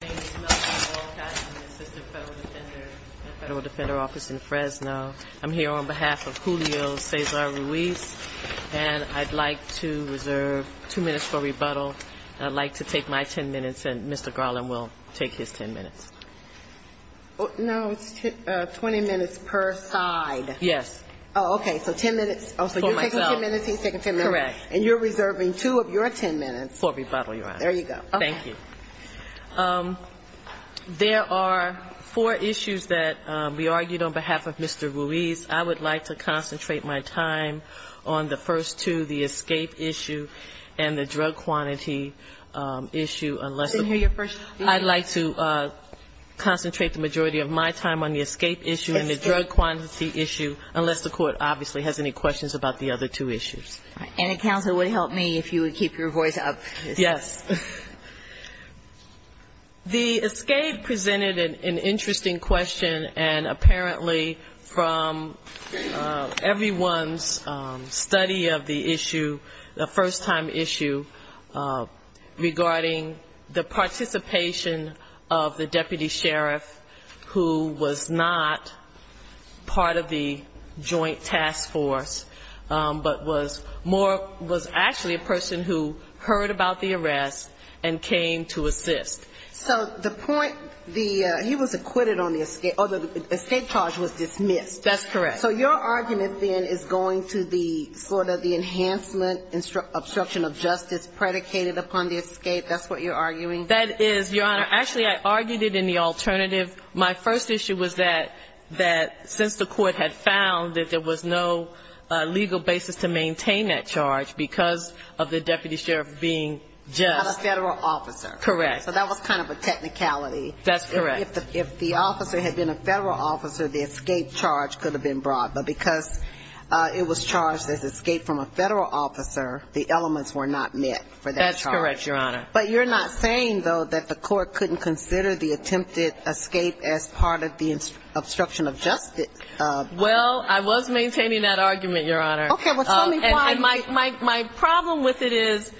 I'm here on behalf of Julio Cesar Ruiz, and I'd like to reserve 2 minutes for rebuttal, and I'd like to take my 10 minutes, and Mr. Garland will take his 10 minutes. No, 20 minutes per side. Yes. Okay, so 10 minutes. For myself. So you're taking 10 minutes, he's taking 10 minutes. Correct. And you're reserving 2 of your 10 minutes. For rebuttal, Your Honor. There you go. Okay. Thank you. There are 4 issues that we argued on behalf of Mr. Ruiz. I would like to concentrate my time on the first 2, the escape issue and the drug quantity issue. I'd like to concentrate the majority of my time on the escape issue and the drug quantity issue, unless the Court obviously has any questions about the other 2 issues. And a counselor would help me if you would keep your voice up. Yes. The escape presented an interesting question, and apparently from everyone's study of the issue, the first-time issue, regarding the participation of the deputy sheriff who was not part of the joint task force, but was actually a person who heard about the arrest and came to assist. So the point, he was acquitted on the escape, or the escape charge was dismissed. That's correct. Okay. So your argument, then, is going to be sort of the enhancement, obstruction of justice predicated upon the escape? That's what you're arguing? That is, Your Honor. Actually, I argued it in the alternative. My first issue was that since the Court had found that there was no legal basis to maintain that charge because of the deputy sheriff being just. A federal officer. Correct. So that was kind of a technicality. That's correct. If the officer had been a federal officer, the escape charge could have been brought. But because it was charged as escape from a federal officer, the elements were not met for that charge. That's correct, Your Honor. But you're not saying, though, that the Court couldn't consider the attempted escape as part of the obstruction of justice? Well, I was maintaining that argument, Your Honor. Okay. My problem with it is,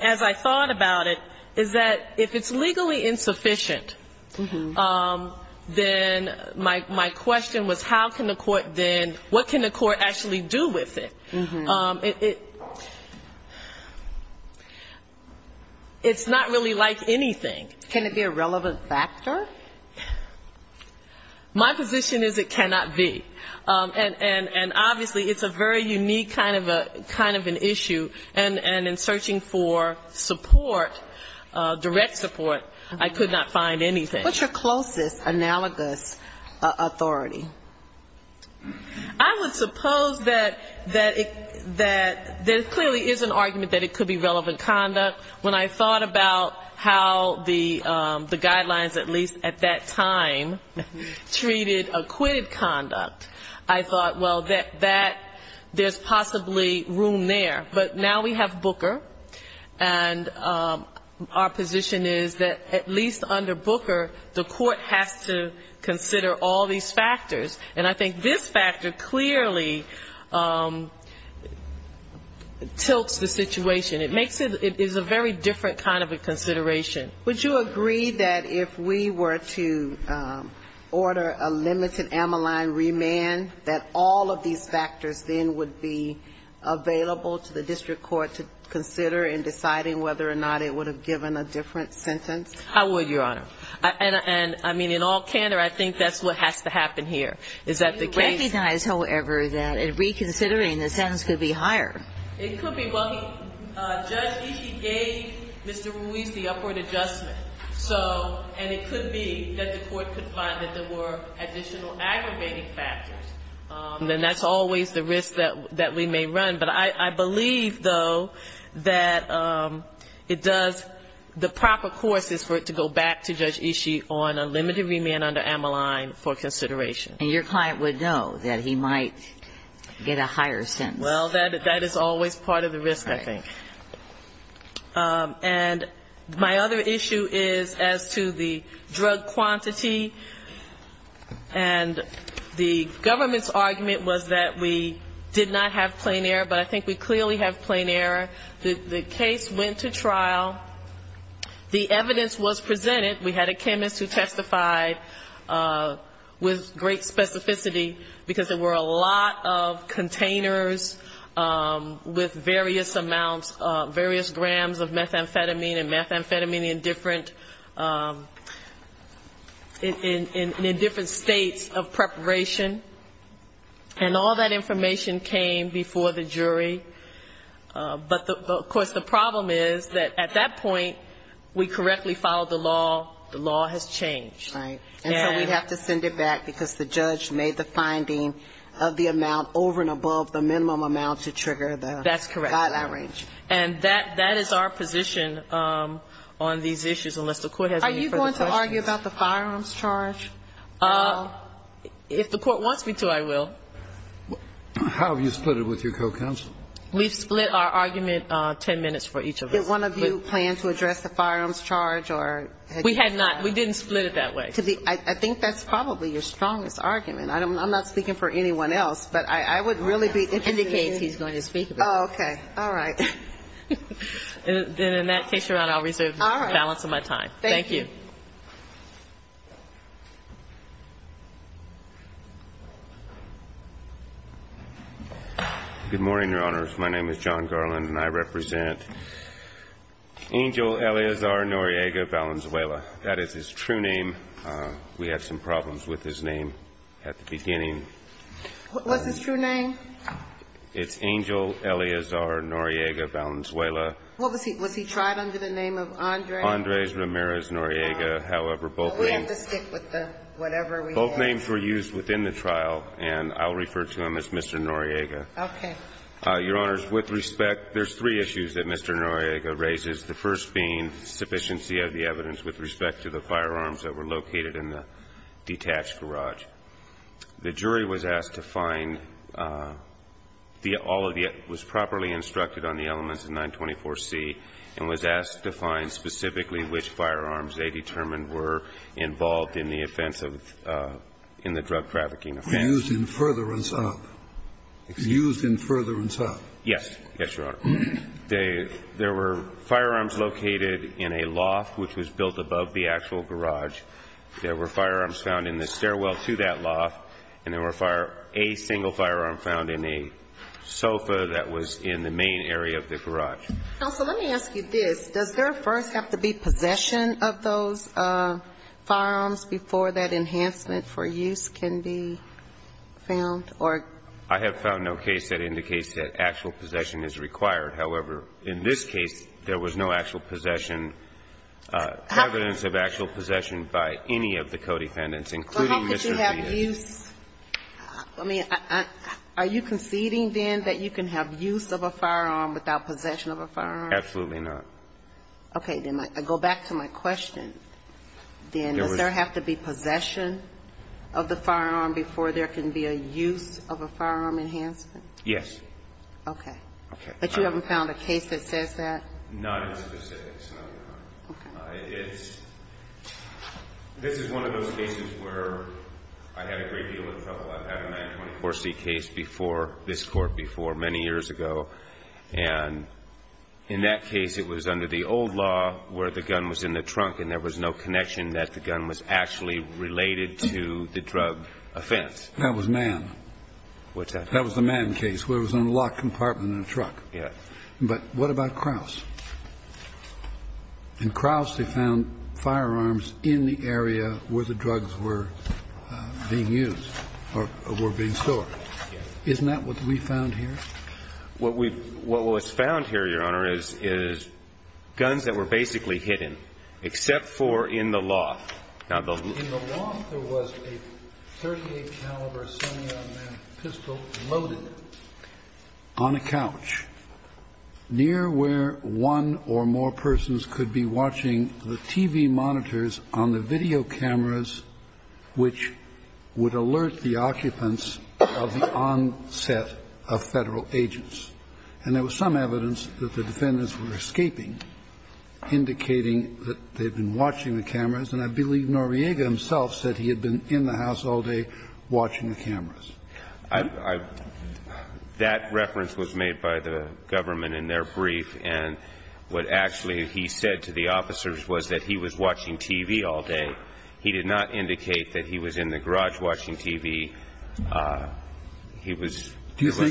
as I thought about it, is that if it's legally insufficient, then my question was, how can the Court then, what can the Court actually do with it? It's not really like anything. Can it be a relevant factor? My position is it cannot be. And obviously, it's a very unique kind of an issue. And in searching for support, direct support, I could not find anything. What's your closest analogous authority? I would suppose that there clearly is an argument that it could be relevant conduct. But when I thought about how the guidelines, at least at that time, treated acquitted conduct, I thought, well, there's possibly room there. But now we have Booker, and our position is that at least under Booker, the Court has to consider all these factors. And I think this factor clearly tilts the situation. It makes it a very different kind of a consideration. Would you agree that if we were to order a limited amyline remand, that all of these factors then would be available to the district court to consider in deciding whether or not it would have given a different sentence? I would, Your Honor. And, I mean, in all candor, I think that's what has to happen here. Is that the case? We recognize, however, that in reconsidering, the sentence could be higher. It could be, well, Judge Ishii gave Mr. Ruiz the upward adjustment. So, and it could be that the Court could find that there were additional aggregating factors. And that's always the risk that we may run. But I believe, though, that it does, the proper court is for it to go back to Judge Ishii on a limited remand under amyline for consideration. And your client would know that he might get a higher sentence. Well, that is always part of the risk, I think. And my other issue is as to the drug quantity. And the government's argument was that we did not have plain error. But I think we clearly have plain error. The case went to trial. The evidence was presented. We had a chemist who testified with great specificity because there were a lot of containers with various amounts, various grams of methamphetamine and methamphetamine in different states of preparation. And all that information came before the jury. But, of course, the problem is that at that point, we correctly followed the law. The law has changed. Right. And so we have to send it back because the judge made the finding of the amount over and above the minimum amount to trigger the average. That's correct. And that is our position on these issues, unless the Court has any further questions. Are you going to argue about the firearms charge? If the Court wants me to, I will. How have you split it with your co-counsel? We split our argument ten minutes for each of us. Did one of you plan to address the firearms charge? We have not. We didn't split it that way. I think that's probably your strongest argument. I'm not speaking for anyone else, but I would really be interested in hearing you. Okay. All right. And in that case, I'll reserve the balance of my time. Thank you. Good morning, Your Honors. My name is John Garland, and I represent Angel Eleazar Noriega Valenzuela. That is his true name. We had some problems with his name at the beginning. What's his true name? It's Angel Eleazar Noriega Valenzuela. Was he tried under the name of Andres? Andres Ramirez Noriega. However, both names were used within the trial. And I'll refer to him as Mr. Noriega. Okay. Your Honors, with respect, there's three issues that Mr. Noriega raises, the first being sufficiency of the evidence with respect to the firearms that were located in the detached garage. The jury was asked to find, was properly instructed on the elements of 924C and was asked to find specifically which firearms they determined were involved in the drug trafficking offense. Used in furtherance up. Used in furtherance up. Yes. Yes, Your Honor. There were firearms located in a loft, which was built above the actual garage. There were firearms found in the stairwell to that loft, and there were a single firearm found in a sofa that was in the main area of the garage. Counsel, let me ask you this. Does there first have to be possession of those firearms before that enhancement for use can be found, or? I have found no case that indicates that actual possession is required. However, in this case, there was no actual possession, evidence of actual possession by any of the co-dependents, including Mr. Noriega. Are you conceding then that you can have use of a firearm without possession of a firearm? Absolutely not. Okay, then I can go back to my question. Does there have to be possession of the firearm before there can be a use of a firearm enhancement? Yes. Okay. But you haven't found a case that says that? Not in this case, Your Honor. Okay. This is one of those cases where I had a great deal of trouble. I've had a 924C case before, this court before, many years ago. And in that case, it was under the old law where the gun was in the trunk and there was no connection that the gun was actually related to the drug offense. That was Mann. That was the Mann case where it was in a locked compartment in a truck. Yes. But what about Krause? In Krause, they found firearms in the area where the drugs were being used or were being stored. Isn't that what we found here? What was found here, Your Honor, is guns that were basically hidden, except for in the loft. In the loft, there was a .38 caliber semi-automatic pistol loaded on a couch near where one or more persons could be watching the TV monitors on the video cameras which would alert the occupants of the onset of federal agents. And there was some evidence that the defendants were escaping, indicating that they'd been watching the cameras, and I believe Noriega himself said he had been in the house all day watching the cameras. That reference was made by the government in their brief, and what actually he said to the officers was that he was watching TV all day. He did not indicate that he was in the garage watching TV. He was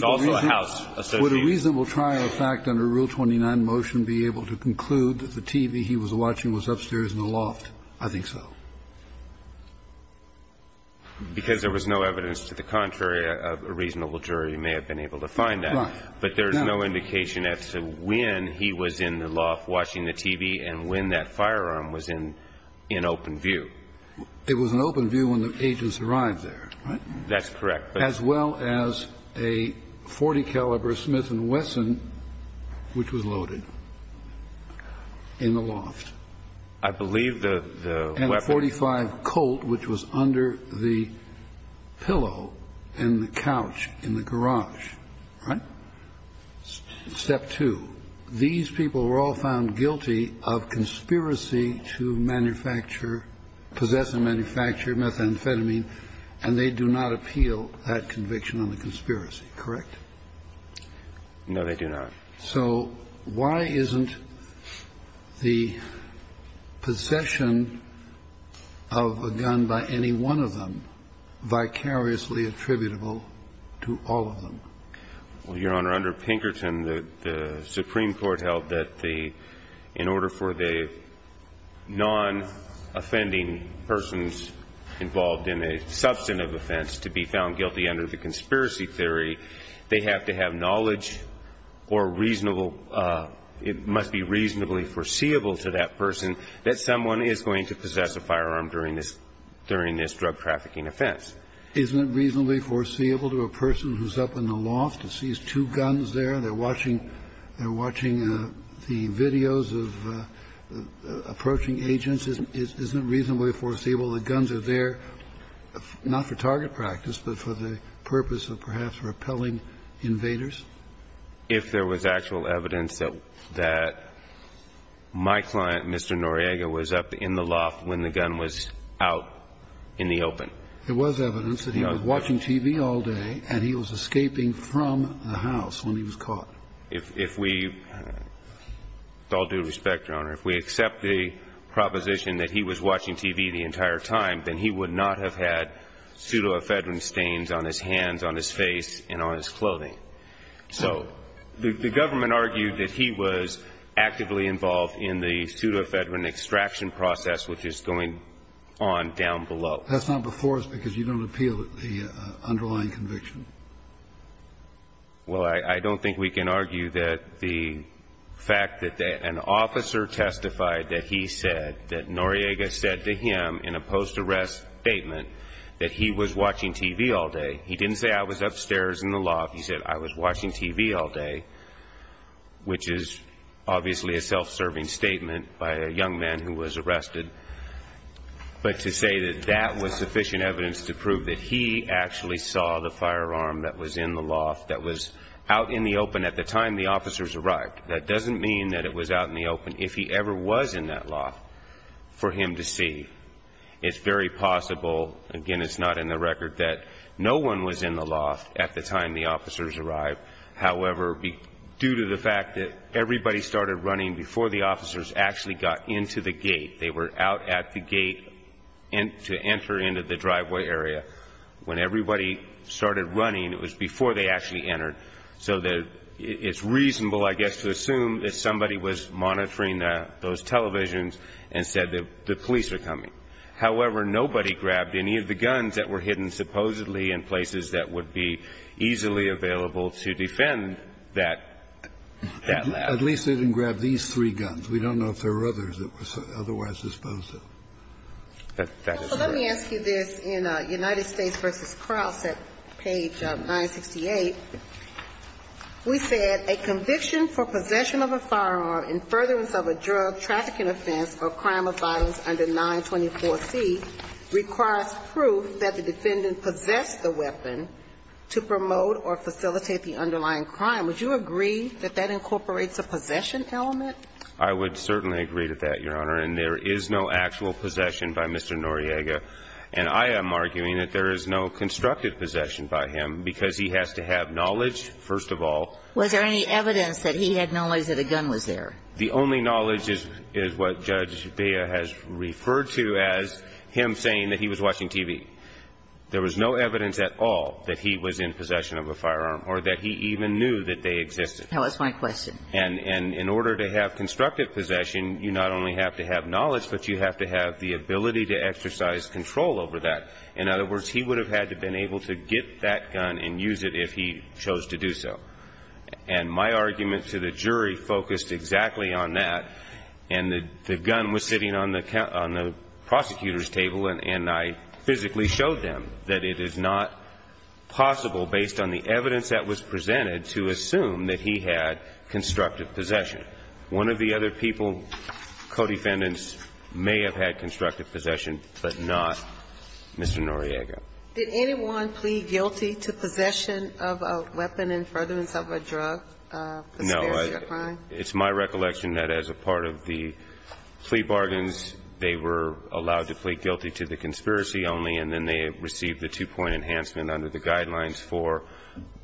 also a house associate. Would a reasonable trial fact under Rule 29 motion be able to conclude that the TV he was watching was upstairs in the loft? I think so. Because there was no evidence to the contrary, a reasonable jury may have been able to find that. But there is no indication as to when he was in the loft watching the TV and when that firearm was in open view. It was in open view when the agents arrived there, right? That's correct. As well as a .40-caliber Smith & Wesson, which was loaded in the loft. I believe the weapon... And a .45 Colt, which was under the pillow in the couch in the garage, right? Step two, these people were all found guilty of conspiracy to manufacture, possess and manufacture methamphetamine, and they do not appeal that conviction in the conspiracy, correct? No, they do not. So why isn't the possession of a gun by any one of them vicariously attributable to all of them? Your Honor, under Pinkerton, the Supreme Court held that in order for the non-offending persons involved in a substantive offense to be found guilty under the conspiracy theory, they have to have knowledge or it must be reasonably foreseeable to that person that someone is going to possess a firearm during this drug trafficking offense. Isn't it reasonably foreseeable to a person who's up in the loft and sees two guns there and they're watching the videos of approaching agents, isn't it reasonably foreseeable the guns are there not for target practice but for the purpose of perhaps repelling invaders? If there was actual evidence that my client, Mr. Noriega, was up in the loft when the gun was out in the open. There was evidence that he was watching TV all day and he was escaping from the house when he was caught. It's all due respect, Your Honor. If we accept the proposition that he was watching TV the entire time, then he would not have had pseudoephedrine stains on his hands, on his face, and on his clothing. So the government argued that he was actively involved in the pseudoephedrine extraction process which is going on down below. Well, that's not before us because you don't appeal the underlying conviction. Well, I don't think we can argue that the fact that an officer testified that he said, that Noriega said to him in a post-arrest statement that he was watching TV all day. He didn't say, I was upstairs in the loft. He said, I was watching TV all day, which is obviously a self-serving statement by a young man who was arrested. But to say that that was sufficient evidence to prove that he actually saw the firearm that was in the loft, that was out in the open at the time the officers arrived, that doesn't mean that it was out in the open if he ever was in that loft for him to see. It's very possible, again it's not in the record, that no one was in the loft at the time the officers arrived. However, due to the fact that everybody started running before the officers actually got into the gate, they were out at the gate to enter into the driveway area. When everybody started running, it was before they actually entered. So it's reasonable, I guess, to assume that somebody was monitoring those televisions and said the police are coming. However, nobody grabbed any of the guns that were hidden supposedly in places that would be easily available to defend that loft. At least they didn't grab these three guns. We don't know if there were others that were otherwise disposed of. Let me ask you this. In United States v. Crouse at page 968, we said, a conviction for possession of a firearm in furtherance of a drug trafficking offense or crime of violence under 924c requires proof that the defendant possessed the weapon to promote or facilitate the underlying crime. Would you agree that that incorporates a possession element? I would certainly agree to that, Your Honor. And there is no actual possession by Mr. Noriega. And I am arguing that there is no constructive possession by him because he has to have knowledge, first of all. Was there any evidence that he had knowledge that a gun was there? The only knowledge is what Judge Vega has referred to as him saying that he was watching TV. There was no evidence at all that he was in possession of a firearm or that he even knew that they existed. Tell us my question. And in order to have constructive possession, you not only have to have knowledge, but you have to have the ability to exercise control over that. In other words, he would have had to have been able to get that gun and use it if he chose to do so. And my argument to the jury focused exactly on that. And the gun was sitting on the prosecutor's table, and I physically showed them that it is not possible, based on the evidence that was presented, to assume that he had constructive possession. One of the other people, co-defendants, may have had constructive possession, but not Mr. Noriega. Did anyone plead guilty to possession of a weapon in furtherance of a drug? No. It's my recollection that as a part of the plea bargains, they were allowed to plead guilty to the conspiracy only, and then they received the two-point enhancement under the guidelines for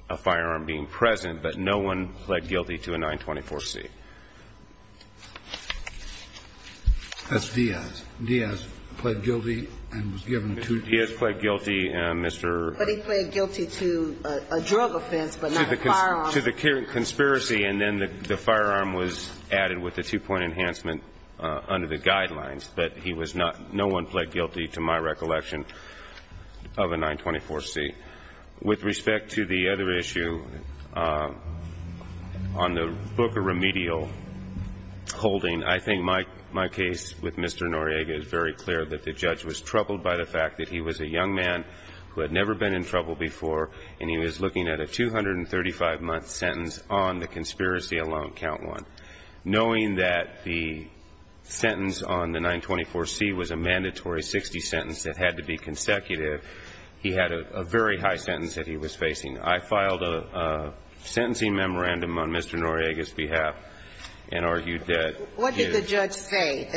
a firearm being present. But no one pled guilty to a 924-C. That's Diaz. Diaz pled guilty and was given two charges. Diaz pled guilty and Mr. to the conspiracy, and then the firearm was added with the two-point enhancement under the guidelines. But no one pled guilty, to my recollection, of a 924-C. With respect to the other issue, on the book of remedial holding, I think my case with Mr. Noriega is very clear that the judge was troubled by the fact that he was a young man who had never been in trouble before, and he was looking at a 235-month sentence on the conspiracy alone, count one. Knowing that the sentence on the 924-C was a mandatory 60-sentence that had to be consecutive, he had a very high sentence that he was facing. I filed a sentencing memorandum on Mr. Noriega's behalf and argued that... The judge didn't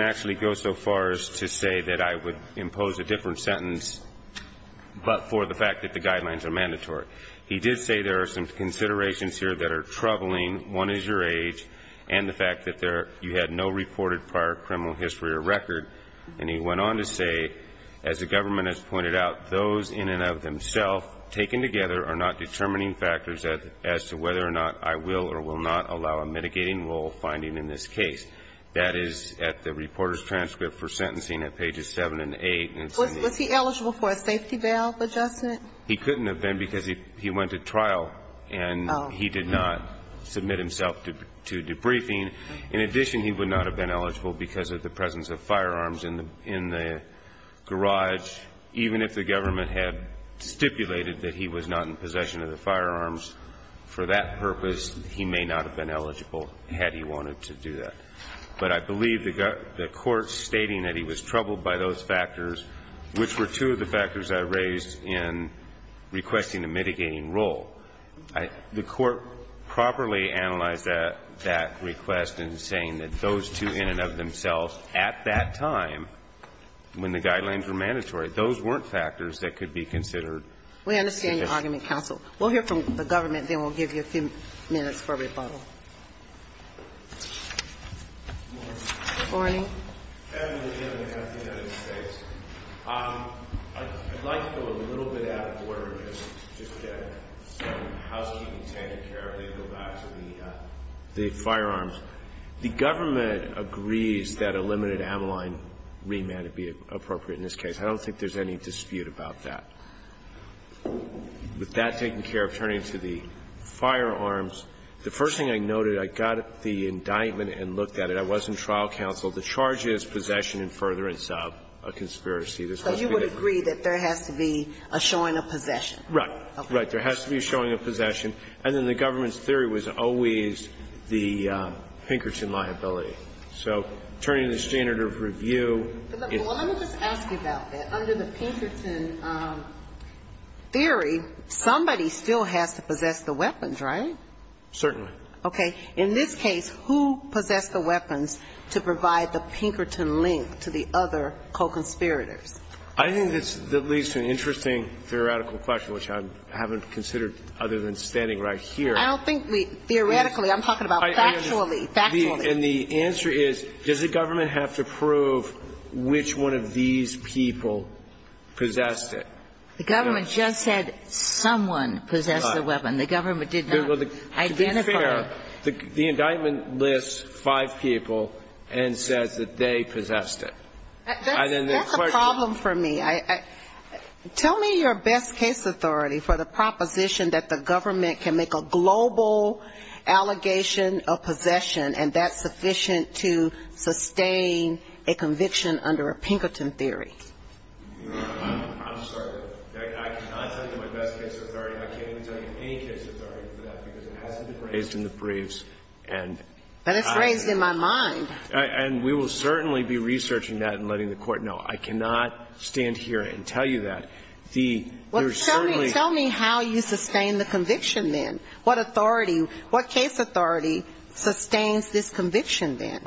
actually go so far as to say that I would impose a different sentence, but for the fact that the guidelines are mandatory. He did say there are some considerations here that are troubling. One is your age and the fact that you had no reported prior criminal history or record. And he went on to say, as the government has pointed out, that those in and of themselves taken together are not determining factors as to whether or not I will or will not allow a mitigating role finding in this case. That is at the reporter's transcript for sentencing at pages 7 and 8. Was he eligible for a safety valve adjustment? He couldn't have been because he went to trial and he did not submit himself to debriefing. In addition, he would not have been eligible because of the presence of firearms in the garage, even if the government had stipulated that he was not in possession of the firearms. For that purpose, he may not have been eligible had he wanted to do that. But I believe the court stating that he was troubled by those factors, which were two of the factors I raised in requesting a mitigating role, the court properly analyzed that request in saying that those two in and of themselves at that time, when the guidelines were mandatory, those weren't factors that could be considered. We understand your argument, counsel. We'll hear from the government and then we'll give you a few minutes for rebuttal. Good morning. Good morning. I'd like to go a little bit out of order and just get how she can take care of this without the firearms. The government agrees that a limited amyline remand would be appropriate in this case. I don't think there's any dispute about that. With that taken care of, turning to the firearms, the first thing I noted, I got the indictment and looked at it. I wasn't trial counsel. The charge is possession in furtherance of a conspiracy. So you would agree that there has to be a showing of possession? Right. Right. There has to be a showing of possession. And then the government's theory was always the Pinkerton liability. So turning the standard of review. Let me just ask you about that. Under the Pinkerton theory, somebody still has to possess the weapons, right? Certainly. Okay. In this case, who possessed the weapons to provide the Pinkerton link to the other co-conspirators? I think this leads to an interesting theoretical question, which I haven't considered other than standing right here. I don't think theoretically. I'm talking about factually. Factually. And the answer is, does the government have to prove which one of these people possessed it? The government just said someone possessed the weapon. The government did not identify. To be fair, the indictment lists five people and says that they possessed it. That's a problem for me. Tell me your best case authority for the proposition that the government can make a global allegation of possession and that's sufficient to sustain a conviction under a Pinkerton theory. I'm sorry. I can't tell you my best case authority. I can't even tell you any case authority for that because it hasn't been raised in the briefs. But it's raised in my mind. And we will certainly be researching that and letting the court know. I cannot stand here and tell you that. Tell me how you sustain the conviction then. What authorities, what case authority sustains this conviction then?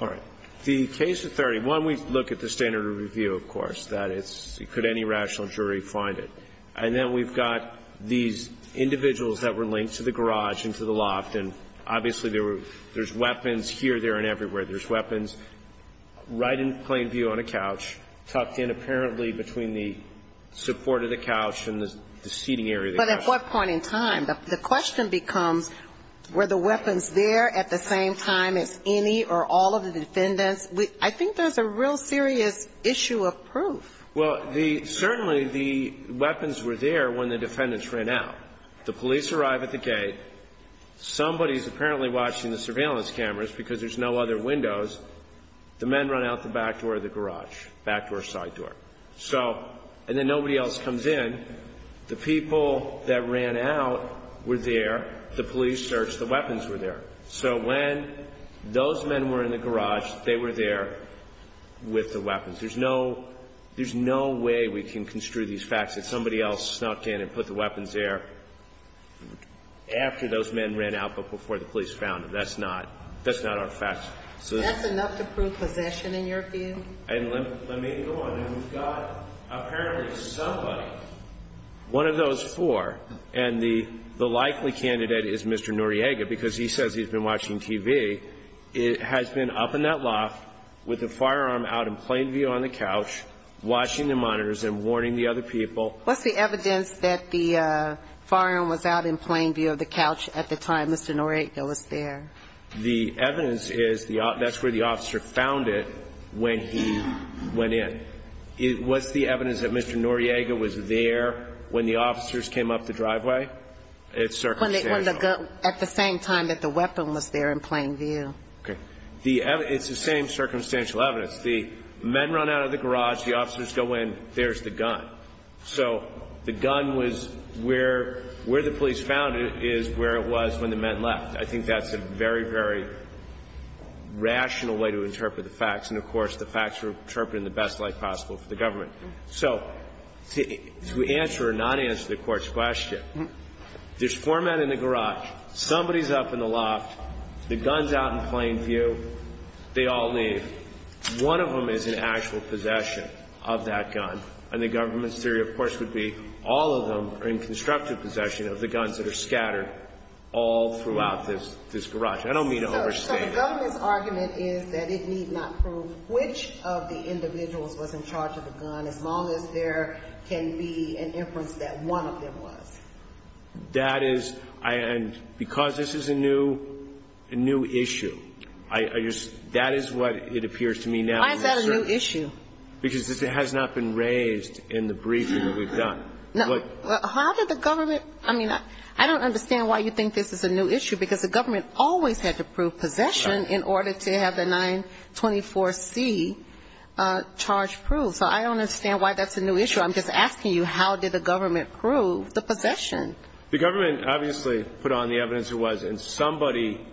The case authority, one, we look at the standard of review, of course. Could any rational jury find it? And then we've got these individuals that were linked to the garage and to the loft, and obviously there's weapons here, there, and everywhere. There's weapons right in plain view on a couch tucked in apparently between the support of the couch and the seating area. But at what point in time? The question becomes were the weapons there at the same time as any or all of the defendants? I think there's a real serious issue of proof. Well, certainly the weapons were there when the defendants ran out. The police arrive at the gate. Somebody is apparently watching the surveillance cameras because there's no other windows. The men run out the back door of the garage, back door, side door. And then nobody else comes in. The people that ran out were there. The police searched. The weapons were there. So when those men were in the garage, they were there with the weapons. There's no way we can construe these facts that somebody else snuck in and put the weapons there after those men ran out but before the police found them. That's not our facts. That's enough to prove possession in your view? Let me go on. We've got apparently one of those four. And the likely candidate is Mr. Noriega because he says he's been watching TV. It has been up in that loft with a firearm out in plain view on the couch, watching the monitors and warning the other people. What's the evidence that the firearm was out in plain view of the couch at the time Mr. Noriega was there? The evidence is that's where the officer found it when he went in. What's the evidence that Mr. Noriega was there when the officers came up the driveway? At the same time that the weapon was there in plain view. Okay. It's the same circumstantial evidence. The men run out of the garage. The officers go in. There's the gun. So the gun was where the police found it is where it was when the men left. I think that's a very, very rational way to interpret the facts. So to answer or not answer the court's question, there's four men in the garage. Somebody's up in the loft. The gun's out in plain view. They all leave. One of them is in actual possession of that gun. And the government's theory, of course, would be all of them are in constructive possession of the guns that are scattered all throughout this garage. I don't mean to overstate it. The government's argument is that it need not prove which of the individuals was in charge of the gun as long as there can be an inference that one of them was. That is – and because this is a new issue, that is what it appears to me now. Why is that a new issue? Because it has not been raised in the briefing we've done. How did the government – I mean, I don't understand why you think this is a new issue because the government always had to prove possession in order to have the 924C charge proved. So I don't understand why that's a new issue. I'm just asking you how did the government prove the possession? The government obviously put on the evidence it was, and somebody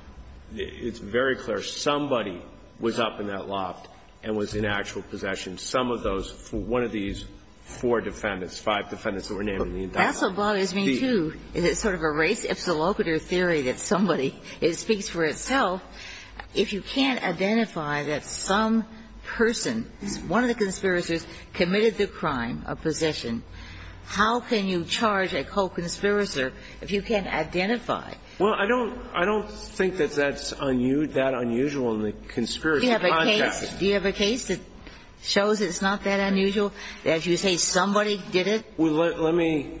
– it's very clear. Somebody was up in that loft and was in actual possession. Some of those – one of these four defendants, five defendants that were named in the indictment. That's what bothers me, too, is it's sort of a race epilopeter theory that somebody – it speaks for itself. If you can't identify that some person, one of the conspirators, committed the crime of possession, how can you charge a co-conspirator if you can't identify it? Well, I don't think that that's that unusual in the conspiracy context. Do you have a case that shows it's not that unusual? As you say, somebody did it? Well, let me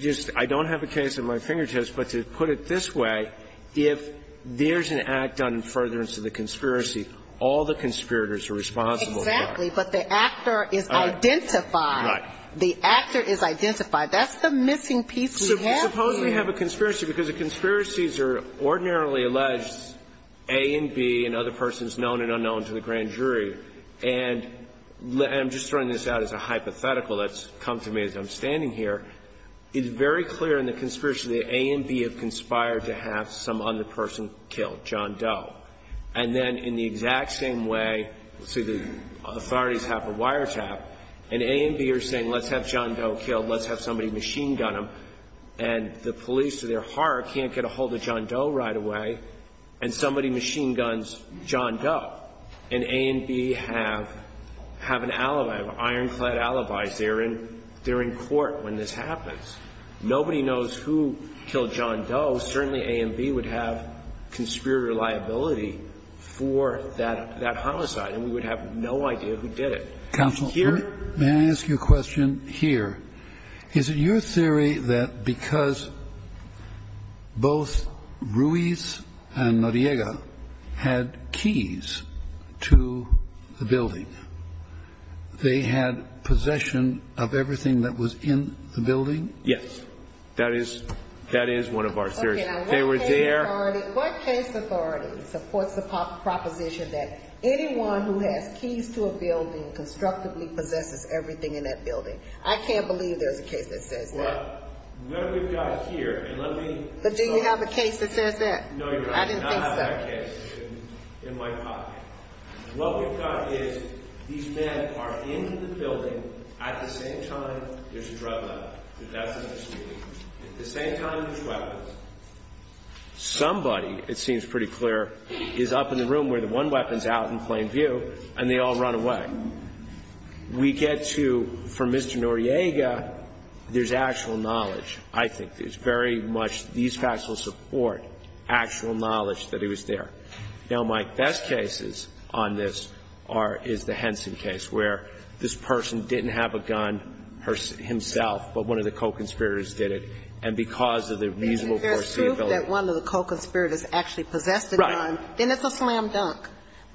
just – I don't have a case in my fingertips, but to put it this way, if there's an act done in furtherance of the conspiracy, all the conspirators are responsible. Exactly, but the actor is identified. Right. The actor is identified. That's the missing piece we have here. Suppose we have a conspiracy because the conspiracies are ordinarily alleged, and that's A and B and other persons known and unknown to the grand jury. And I'm just throwing this out as a hypothetical that's come to me as I'm standing here. It's very clear in the conspiracy that A and B have conspired to have some other person killed, John Doe. And then in the exact same way, let's say the authorities have a wiretap, and A and B are saying, let's have John Doe killed, let's have somebody machine gun him, and the police, to their horror, can't get a hold of John Doe right away, and somebody machine guns John Doe. And A and B have an alibi, an ironclad alibi. They're in court when this happens. Nobody knows who killed John Doe. Certainly A and B would have conspirator liability for that homicide, and we would have no idea who did it. Counsel, may I ask you a question here? Is it your theory that because both Ruiz and Noriega had keys to the building, they had possession of everything that was in the building? Yes. That is one of our theories. Okay. What case authority supports the proposition that anyone who has keys to a building constructively possesses everything in that building? I can't believe there's a case that says that. Well, whoever you are here, and I'm going to- But do you have a case that says that? No, you do not have a case that says that in my opinion. What we've got is, these men are in the building at the same time there's a drug lab, at the same time there's weapons. Somebody, it seems pretty clear, is up in the room where the one weapon's out in plain view, and they all run away. We get to, for Mr. Noriega, there's actual knowledge, I think. There's very much, these facts will support actual knowledge that he was there. Now, my best cases on this is the Henson case, where this person didn't have a gun himself, but one of the co-conspirators did it, and because of the reasonable possibility- If there's proof that one of the co-conspirators actually possessed the gun, then it's a slam dunk,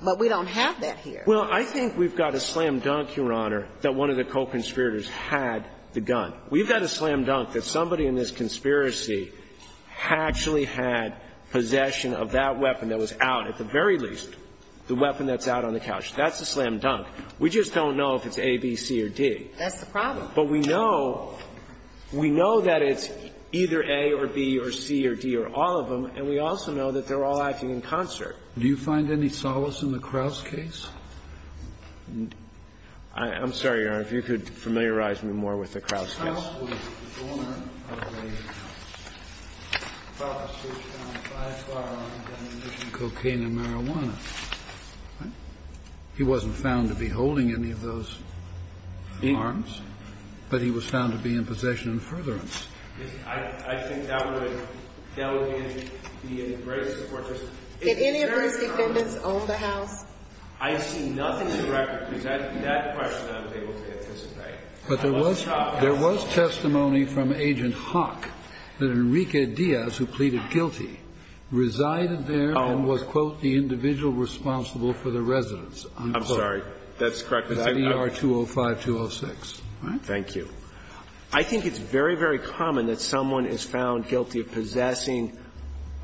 but we don't have that here. Well, I think we've got a slam dunk, Your Honor, that one of the co-conspirators had the gun. We've got a slam dunk that somebody in this conspiracy actually had possession of that weapon that was out, at the very least, the weapon that's out on the couch. That's a slam dunk. We just don't know if it's A, B, C, or D. That's the problem. But we know that it's either A or B or C or D or all of them, and we also know that they're all acting in concert. Do you find any solace in the Krauss case? I'm sorry, Your Honor. If you could familiarize me more with the Krauss case. Krauss was the owner of a house, which found five firearms, ammunition, cocaine, and marijuana. He wasn't found to be holding any of those firearms, but he was found to be in possession in furtherance. I think that would be a great support. Did any of those defendants own the house? I see nothing in the records that that's a question I'm able to anticipate. But there was testimony from Agent Hawk that Enrique Diaz, who pleaded guilty, resided there and was, quote, the individual responsible for the residence. I'm sorry. That's correct. With ER-205-206. Thank you. I think it's very, very common that someone is found guilty of possessing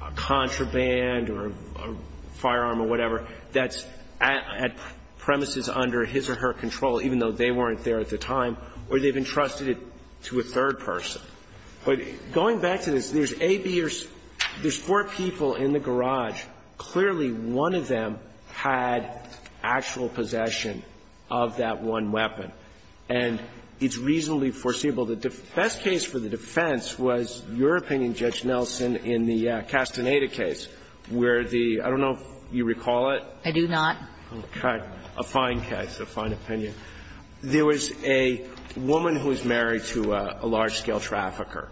a contraband or a firearm or whatever that's at premises under his or her control, even though they weren't there at the time, or they've entrusted it to a third person. But going back to this, there's A, B, there's four people in the garage. Clearly, one of them had actual possession of that one weapon. And it's reasonably foreseeable that the best case for the defense was your opinion, Judge Nelson, in the Castaneda case where the, I don't know if you recall it. I do not. Okay. A fine case, a fine opinion. There was a woman who was married to a large-scale trafficker.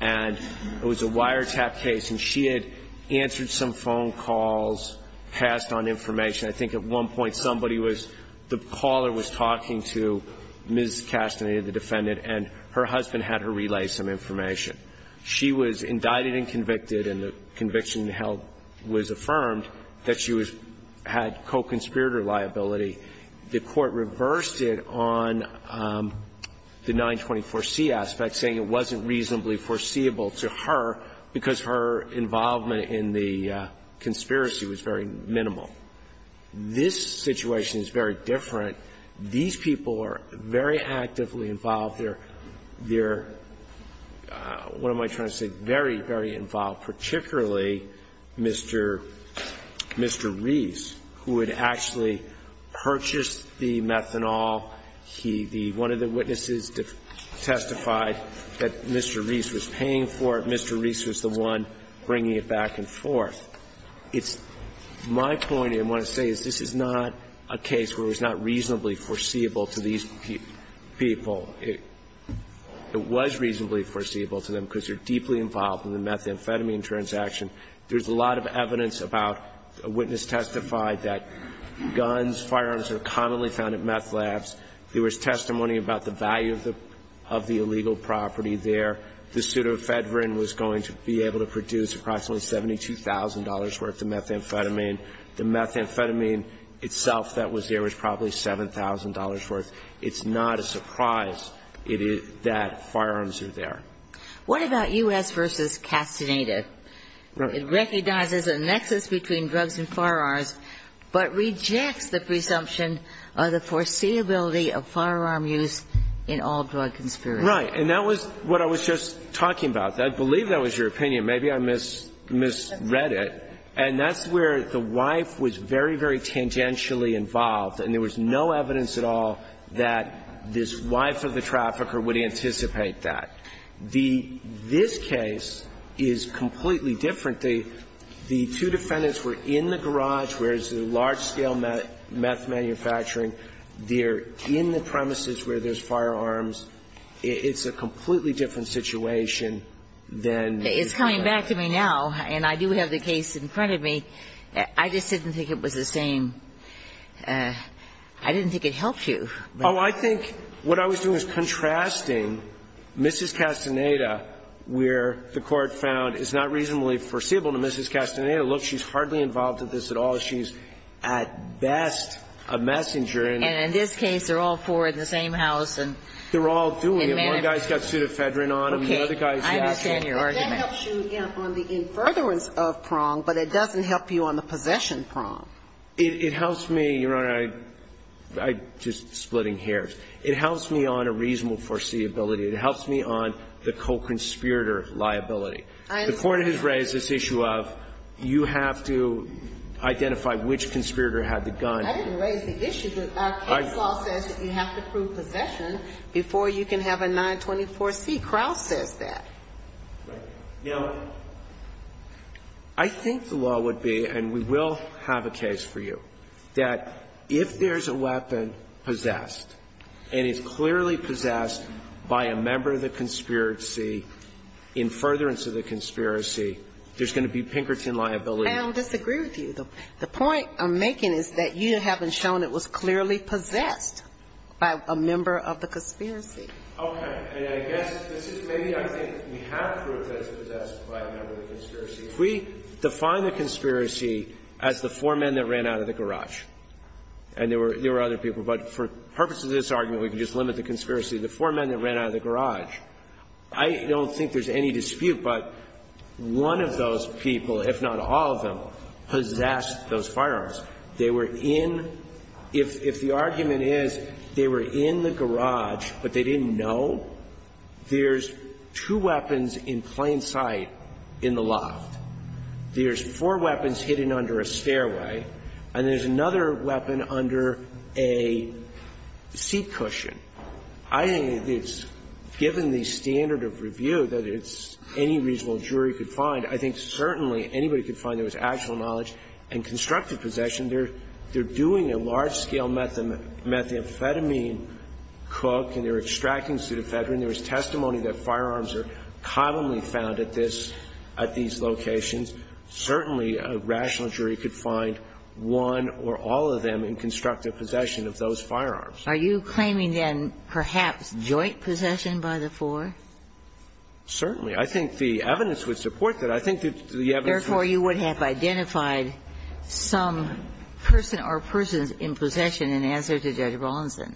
And it was a wiretap case, and she had answered some phone calls, passed on information. I think at one point somebody was, the caller was talking to Ms. Castaneda, the defendant, and her husband had her relay some information. She was indicted and convicted, and the conviction held was affirmed that she had co-conspirator liability. The court reversed it on the 924C aspect, saying it wasn't reasonably foreseeable to her because her involvement in the conspiracy was very minimal. This situation is very different. These people are very actively involved. They're, what am I trying to say, very, very involved, particularly Mr. Reese, who had actually purchased the methanol. One of the witnesses testified that Mr. Reese was paying for it. Mr. Reese was the one bringing it back and forth. My point, I want to say, is this is not a case where it was not reasonably foreseeable to these people. It was reasonably foreseeable to them because they're deeply involved in the methamphetamine transaction. There's a lot of evidence about, a witness testified that guns, firearms are commonly found at meth labs. There was testimony about the value of the illegal property there. The pseudofedrin was going to be able to produce approximately $72,000 worth of methamphetamine. The methamphetamine itself that was there was probably $7,000 worth. It's not a surprise that firearms are there. What about U.S. v. Castaneda? It recognizes a nexus between drugs and firearms, but rejects the presumption of the foreseeability of firearm use in all drug conspiracies. Right, and that was what I was just talking about. I believe that was your opinion. Maybe I misread it. And that's where the wife was very, very tangentially involved, and there was no evidence at all that this wife of the trafficker would anticipate that. This case is completely different. The two defendants were in the garage where there's large-scale meth manufacturing. They're in the premises where there's firearms. It's a completely different situation. It's coming back to me now, and I do have the case in front of me. I just didn't think it was the same. I didn't think it helped you. Oh, I think what I was doing was contrasting Mrs. Castaneda, where the court found it's not reasonably foreseeable to Mrs. Castaneda. Look, she's hardly involved in this at all. She's, at best, a messenger. And in this case, they're all four in the same house. They're all doing it. One guy steps you to Fedrin on them. Okay, I understand your argument. It helps you on the infertile of prong, but it doesn't help you on the possession prong. It helps me, Your Honor, I'm just splitting hairs. It helps me on a reasonable foreseeability. It helps me on the co-conspirator liability. The court has raised this issue of you have to identify which conspirator had the gun. I didn't raise the issue. The law says that you have to prove possession before you can have a 924C. Crouch says that. Now, I think the law would be, and we will have a case for you, that if there's a weapon possessed, and it's clearly possessed by a member of the conspiracy, in furtherance of the conspiracy, there's going to be Pinkerton liability. I don't disagree with you, though. The point I'm making is that you haven't shown it was clearly possessed by a member of the conspiracy. Okay, and I guess, maybe I think we have proof that it's possessed by a member of the conspiracy. If we define the conspiracy as the four men that ran out of the garage, and there were other people, but for purposes of this argument, we can just limit the conspiracy to the four men that ran out of the garage. I don't think there's any dispute, but one of those people, if not all of them, possessed those firearms. They were in, if the argument is they were in the garage, but they didn't know, there's two weapons in plain sight in the lot. There's four weapons hidden under a stairway, and there's another weapon under a seat cushion. I think it's, given the standard of review that any reasonable jury could find, I think certainly anybody could find there was actual knowledge in constructed possession. They're doing a large-scale methamphetamine cook, and they're extracting pseudoephedrine. There was testimony that firearms are commonly found at this, at these locations. Certainly a rational jury could find one or all of them in constructed possession of those firearms. Are you claiming, then, perhaps joint possession by the four? Certainly. I think the evidence would support that. I think the evidence would support that. Therefore, you would have identified some person or persons in possession in answer to Judge Rawlinson.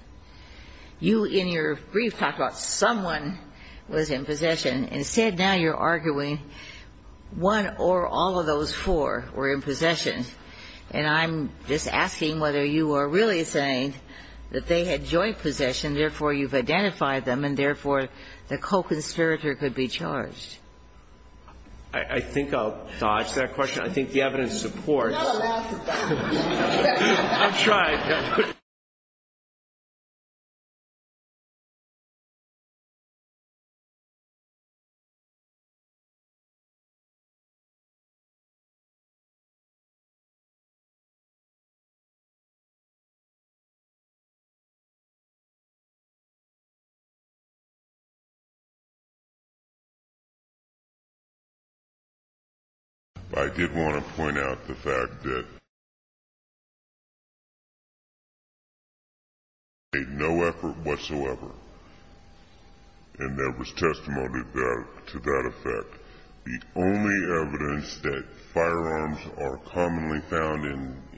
You, in your brief, talked about someone was in possession. Instead, now you're arguing one or all of those four were in possession. And I'm just asking whether you are really saying that they had joint possession, therefore you've identified them, and therefore the co-conservator could be charged. I think I'll dodge that question. I think the evidence supports that. That allows for that. I'm trying. Thank you. I did want to point out the fact that there was no effort whatsoever. And there was testimony to that effect. The only evidence that firearms are commonly found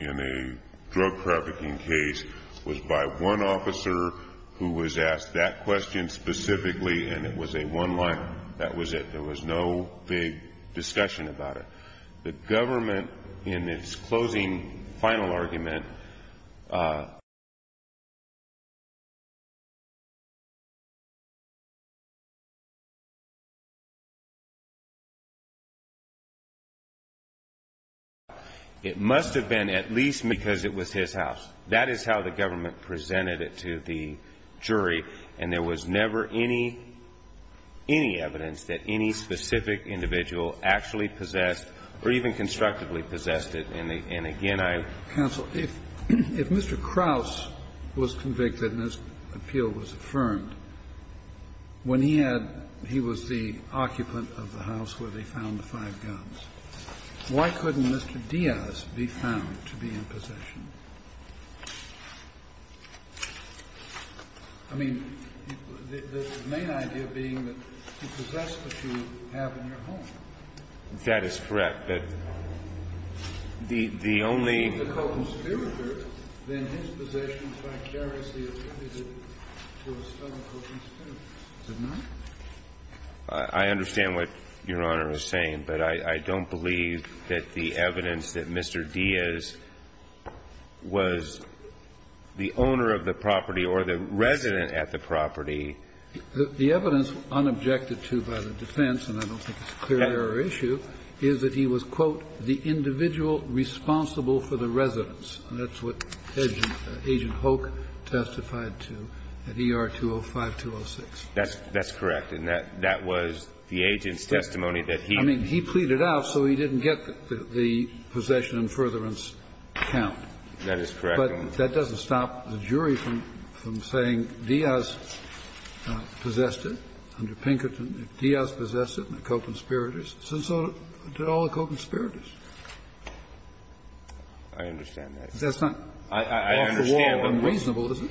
in a drug trafficking case was by one officer who was asked that question specifically, and it was a one-liner. That was it. There was no big discussion about it. The government, in its closing final argument, it must have been at least because it was his house. That is how the government presented it to the jury. And there was never any evidence that any specific individual actually possessed or even constructively possessed it. And, again, I counsel. If Mr. Krause was convicted and this appeal was affirmed, when he was the occupant of the house where they found the five guns, why couldn't Mr. Diaz be found to be in possession? I mean, the main idea being that you possess what you have in your home. That is correct. If he is a conspirator, then his possession by jealousy is a result of his conspiracy. Am I right? I understand what Your Honor is saying, but I don't believe that the evidence that Mr. Diaz was the owner of the property or the resident at the property. The evidence, unobjected to by the defense, and I don't think it's a clear error issue, is that he was, quote, the individual responsible for the residence. And that's what Agent Hoke testified to at ER-205-206. That's correct. And that was the agent's testimony that he... I mean, he pleaded out so he didn't get the possession and furtherance count. That is correct. But that doesn't stop the jury from saying Diaz possessed it under Pinkerton. Diaz possessed it, a co-conspirator. And so did all the co-conspirators. I understand that. That's not, after all, unreasonable, is it?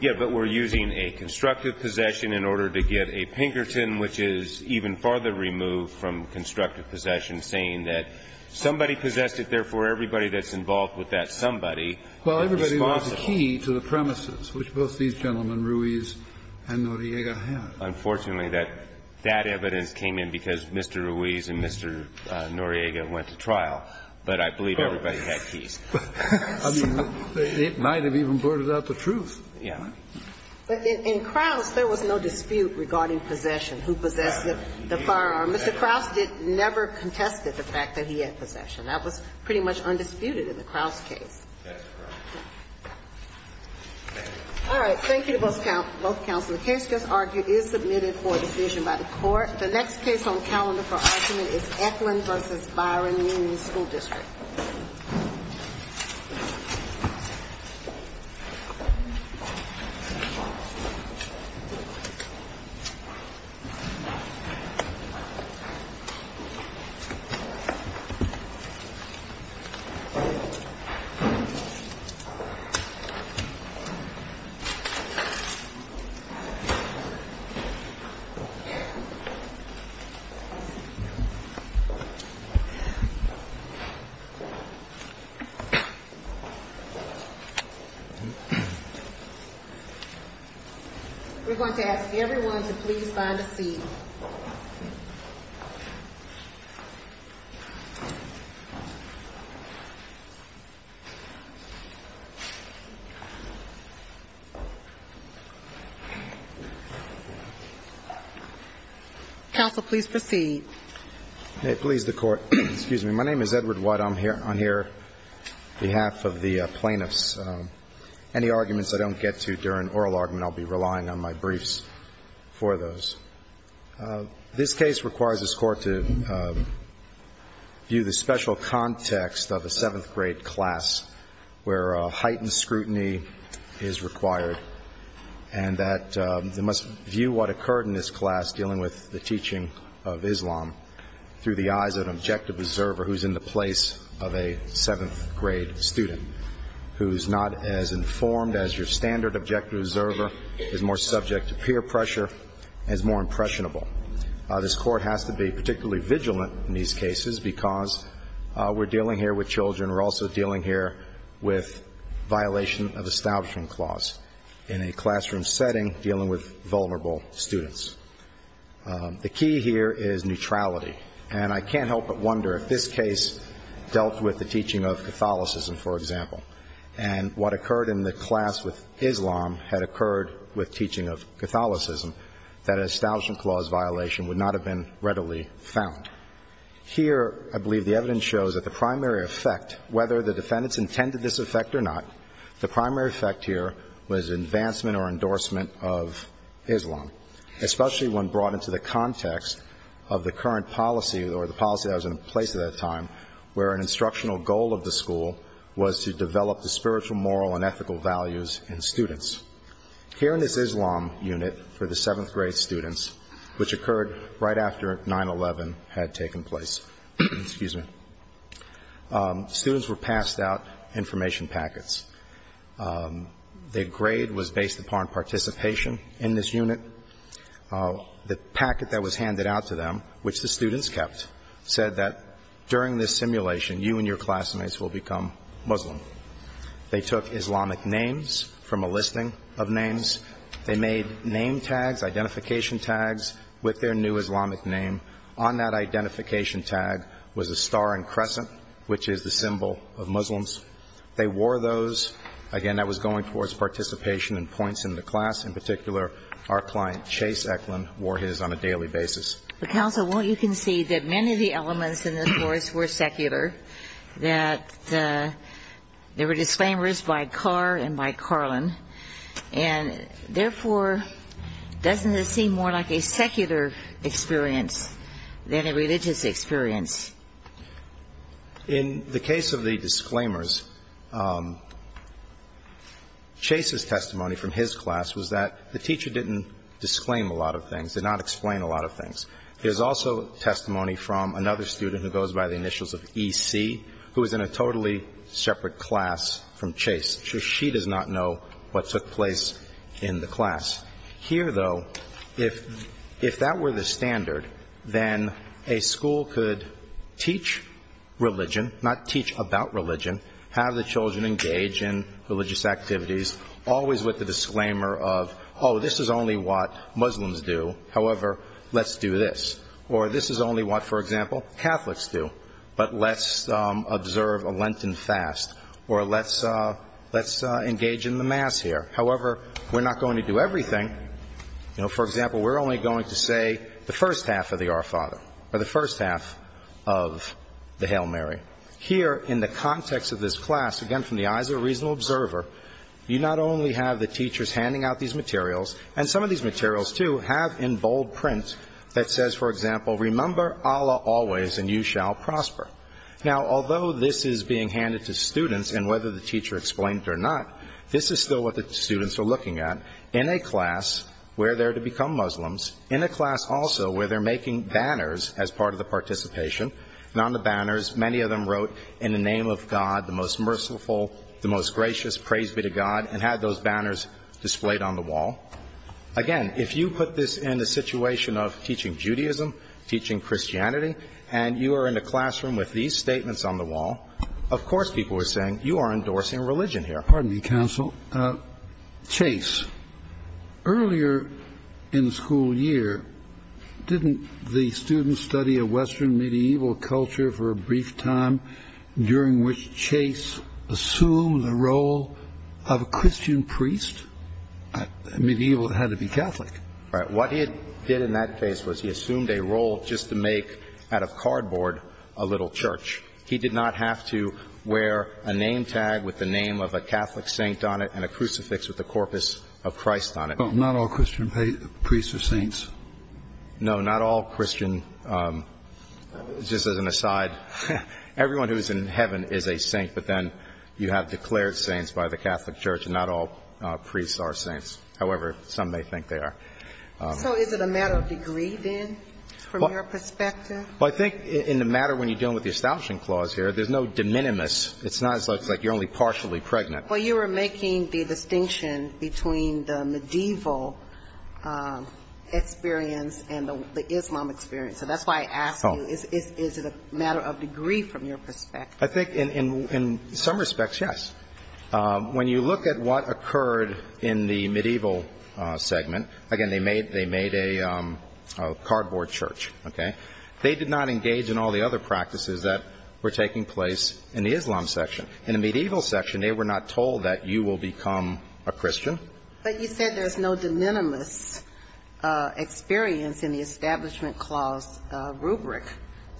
Yeah, but we're using a constructive possession in order to get a Pinkerton, which is even farther removed from constructive possession, saying that somebody possessed it, therefore everybody that's involved with that somebody is responsible. Well, everybody was the key to the premises, which both these gentlemen, Ruiz and Noriega, had. Unfortunately, that evidence came in because Mr. Ruiz and Mr. Noriega went to trial, but I believe everybody had keys. I mean, it might have even brought it up a truth. Yeah. In Krause, there was no dispute regarding possession, who possessed the firearm. Mr. Krause never contested the fact that he had possession. That was pretty much undisputed in the Krause case. That's correct. All right. Thank you to both counsels. The fifth disargument is submitted for decision by the court. The next case on the calendar for argument is Ecklund v. Byron Union School District. We're going to ask everyone to please line up, please. Counsel, please proceed. Okay. Please, the court. Excuse me. My name is Edward White. I'm here on behalf of the plaintiffs. Any arguments I don't get to during oral argument, I'll be relying on my briefs for those. This case requires this court to view the special context of a seventh-grade class where heightened scrutiny is required, and that you must view what occurred in this class dealing with the teaching of Islam through the eyes of an objective observer who's in the place of a seventh-grade student, who's not as informed as your standard objective observer, is more subject to peer pressure, and is more impressionable. This court has to be particularly vigilant in these cases because we're dealing here with children. We're also dealing here with violation of establishment clause in a classroom setting dealing with vulnerable students. The key here is neutrality. And I can't help but wonder if this case dealt with the teaching of Catholicism, for example, and what occurred in the class with Islam had occurred with teaching of Catholicism, that an establishment clause violation would not have been readily found. Here, I believe the evidence shows that the primary effect, whether the defendants intended this effect or not, the primary effect here was advancement or endorsement of Islam, especially when brought into the context of the current policy or the policy that was in place at that time where an instructional goal of the school was to develop the spiritual, moral, and ethical values in students. Here in this Islam unit for the seventh-grade students, which occurred right after 9-11 had taken place, students were passed out information packets. Their grade was based upon participation in this unit. The packet that was handed out to them, which the students kept, said that during this simulation, you and your classmates will become Muslim. They took Islamic names from a listing of names. They made name tags, identification tags, with their new Islamic name. On that identification tag was a star and crescent, which is the symbol of Muslims. They wore those. Again, that was going towards participation and points in the class. In particular, our client, Chase Eklund, wore his on a daily basis. Counsel, won't you concede that many of the elements in this course were secular, that there were disclaimers by Carr and by Carlin, and therefore doesn't it seem more like a secular experience than a religious experience? In the case of the disclaimers, Chase's testimony from his class was that the teacher didn't disclaim a lot of things, did not explain a lot of things. There's also testimony from another student who goes by the initials of EC, who was in a totally separate class from Chase. She does not know what took place in the class. Here, though, if that were the standard, then a school could teach religion, not teach about religion, have the children engage in religious activities, always with the disclaimer of, oh, this is only what Muslims do. However, let's do this. Or this is only what, for example, Catholics do. But let's observe a Lenten fast. Or let's engage in the mass here. However, we're not going to do everything. For example, we're only going to say the first half of the Our Father, or the first half of the Hail Mary. Here, in the context of this class, again, from the eyes of a reasonable observer, you not only have the teachers handing out these materials, and some of these materials, too, have in bold print that says, for example, remember Allah always and you shall prosper. Now, although this is being handed to students and whether the teacher explained it or not, this is still what the students are looking at in a class where they're to become Muslims, in a class also where they're making banners as part of the participation. And on the banners, many of them wrote, in the name of God, the most merciful, the most gracious, praise be to God, and had those banners displayed on the wall. Again, if you put this in a situation of teaching Judaism, teaching Christianity, and you are in a classroom with these statements on the wall, of course people are saying you are endorsing religion here. Pardon me, Counsel. Chase, earlier in the school year, didn't the students study a Western medieval culture for a brief time during which Chase assumed the role of a Christian priest? Medieval had to be Catholic. What he did in that phase was he assumed a role just to make, out of cardboard, a little church. He did not have to wear a name tag with the name of a Catholic saint on it and a crucifix with the corpus of Christ on it. So not all Christian priests are saints? No, not all Christian. Just as an aside, everyone who is in heaven is a saint, but then you have declared saints by the Catholic Church, and not all priests are saints. However, some may think they are. So is it a matter of degree, then, from your perspective? Well, I think in the matter when you're dealing with the espousal clause here, there's no de minimis. It's not like you're only partially pregnant. Well, you were making the distinction between the medieval experience and the Islam experience. So that's why I asked you, is it a matter of degree from your perspective? I think in some respects, yes. When you look at what occurred in the medieval segment, again, they made a cardboard church. They did not engage in all the other practices that were taking place in the Islam section. In the medieval section, they were not told that you will become a Christian. But you said there's no de minimis experience in the establishment clause rubric.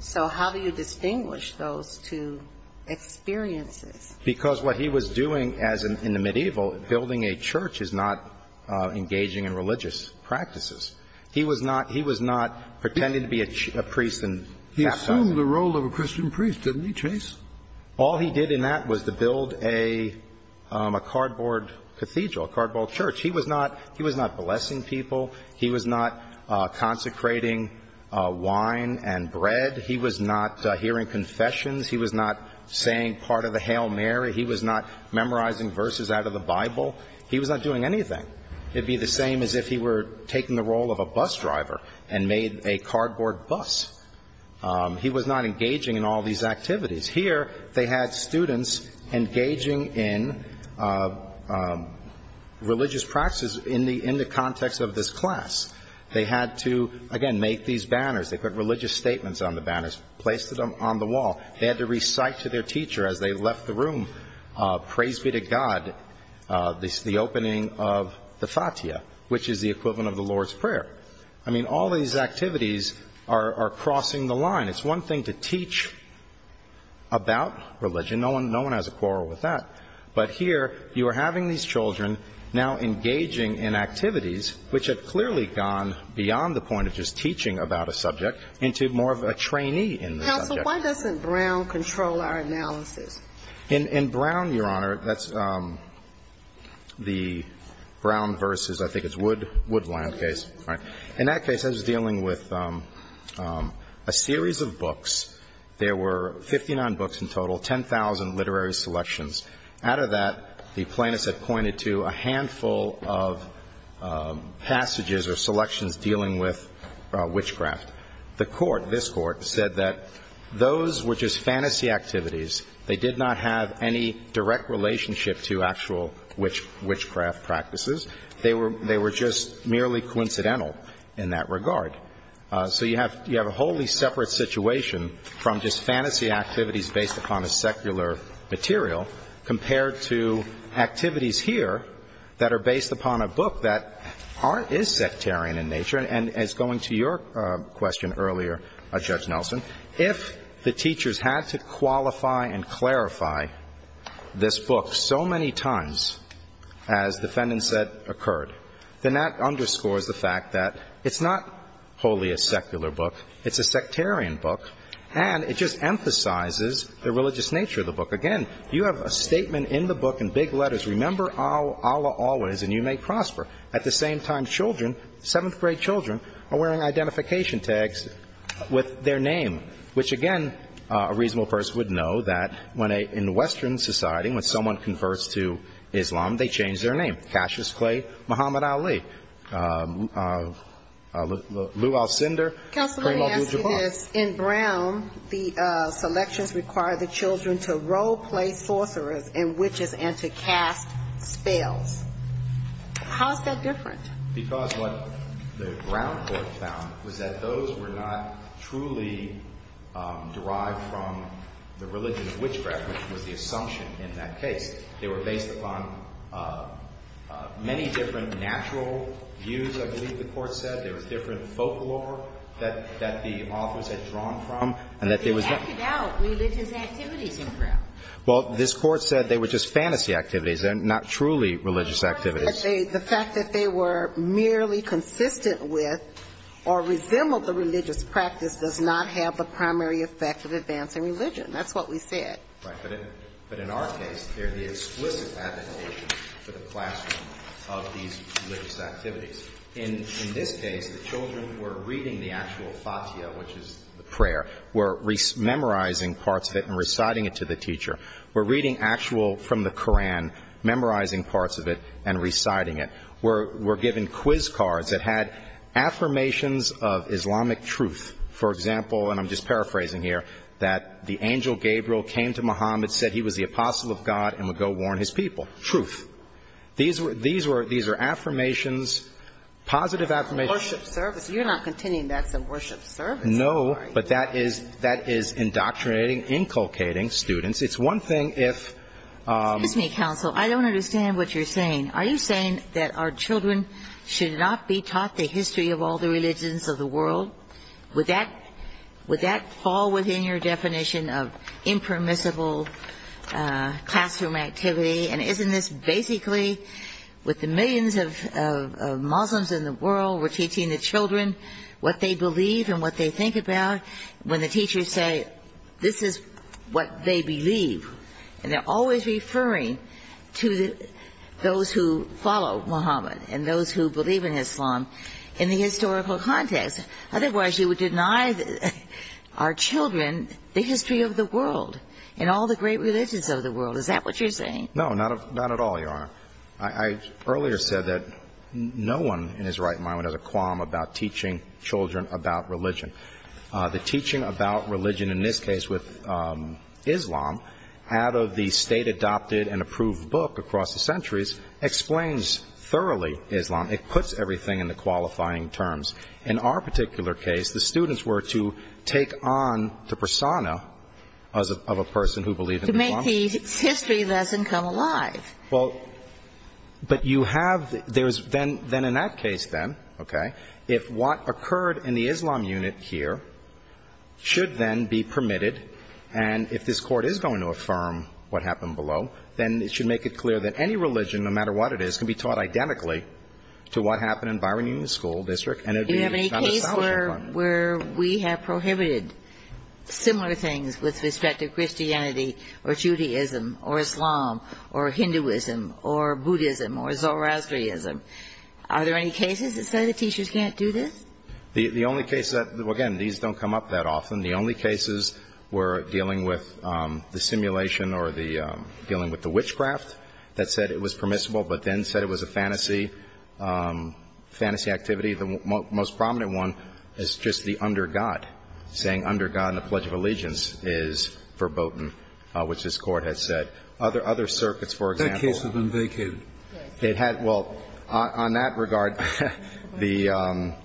So how do you distinguish those two experiences? Because what he was doing in the medieval, building a church, is not engaging in religious practices. He was not pretending to be a priest. He assumed the role of a Christian priest, didn't he, Chase? All he did in that was to build a cardboard cathedral, a cardboard church. He was not blessing people. He was not consecrating wine and bread. He was not hearing confessions. He was not saying part of the Hail Mary. He was not memorizing verses out of the Bible. He was not doing anything. It would be the same as if he were taking the role of a bus driver and made a cardboard bus. He was not engaging in all these activities. Here, they had students engaging in religious practices in the context of this class. They had to, again, make these banners. They put religious statements on the banners, placed them on the wall. They had to recite to their teacher as they left the room, praise be to God, the opening of the satya, which is the equivalent of the Lord's Prayer. I mean, all these activities are crossing the line. It's one thing to teach about religion. No one has a quarrel with that. But here, you are having these children now engaging in activities, which have clearly gone beyond the point of just teaching about a subject into more of a trainee in the subject. Why doesn't Brown control our analysis? In Brown, Your Honor, that's the Brown versus, I think it's Woodland case. In that case, I was dealing with a series of books. There were 59 books in total, 10,000 literary selections. Out of that, the plaintiffs have pointed to a handful of passages or selections dealing with witchcraft. The court, this court, said that those were just fantasy activities. They did not have any direct relationship to actual witchcraft practices. They were just merely coincidental in that regard. So you have a wholly separate situation from just fantasy activities based upon a secular material, compared to activities here that are based upon a book that is sectarian in nature. And it's going to your question earlier, Judge Nelson. If the teachers had to qualify and clarify this book so many times, as the defendant said occurred, then that underscores the fact that it's not wholly a secular book. It's a sectarian book, and it just emphasizes the religious nature of the book. Again, you have a statement in the book in big letters, remember Allah always and you may prosper. At the same time, children, seventh grade children, are wearing identification tags with their name, which again, a reasonable person would know that in Western society, when someone converts to Islam, they change their name. Cassius Clay, Muhammad Ali, Lu Alcindor. Counselor, let me ask you this. In Brown, the selections require the children to role-play forerunners in witches and to cast spells. How is that different? Because what the Brown court found was that those were not truly derived from the religion of witchcraft, which was the assumption in that case. They were based upon many different natural views, I believe the court said. There were different folklore that the authors had drawn from. They acted out religious activities in Brown. Well, this court said they were just fantasy activities. They're not truly religious activities. The fact that they were merely consistent with or resembled the religious practice does not have the primary effect of advancing religion. That's what we said. But in our case, they're the explicit application to the classroom of these religious activities. In this case, the children were reading the actual Fatiha, which is the prayer. We're memorizing parts of it and reciting it to the teacher. We're reading actual from the Koran, memorizing parts of it, and reciting it. We're giving quiz cards that had affirmations of Islamic truth. For example, and I'm just paraphrasing here, that the angel Gabriel came to Muhammad, said he was the apostle of God, and would go warn his people. Truth. These are affirmations, positive affirmations. Worship service. You're not continuing that worship service. No, but that is indoctrinating, inculcating students. It's one thing if... Excuse me, counsel. I don't understand what you're saying. Are you saying that our children should not be taught the history of all the religions of the world? Would that fall within your definition of impermissible classroom activity? And isn't this basically, with the millions of Muslims in the world, we're teaching the children what they believe and what they think about, when the teachers say this is what they believe, and they're always referring to those who follow Muhammad and those who believe in Islam in the historical context. Otherwise, you would deny our children the history of the world and all the great religions of the world. Is that what you're saying? No, not at all, Your Honor. I earlier said that no one in his right mind has a qualm about teaching children about religion. The teaching about religion, in this case with Islam, out of the state-adopted and approved book across the centuries, explains thoroughly Islam. It puts everything into qualifying terms. In our particular case, the students were to take on the persona of a person who believed in Islam. To make the history lesson come alive. But you have... Then in that case, then, okay, if what occurred in the Islam unit here should then be permitted, and if this court is going to affirm what happened below, then it should make it clear that any religion, no matter what it is, can be taught identically to what happened in Bahrain School District. Do you have any case where we have prohibited similar things with respect to Christianity or Judaism or Islam or Hinduism or Buddhism or Zoroastrianism? Are there any cases that say that teachers can't do this? The only case that, again, these don't come up that often. The only cases were dealing with the simulation or dealing with the witchcraft that said it was permissible but then said it was a fantasy activity. The most prominent one is just the under God. Saying under God in the Pledge of Allegiance is foreboding, which this court has said. Other circuits, for example... That case has been vacated. Well, on that regard, the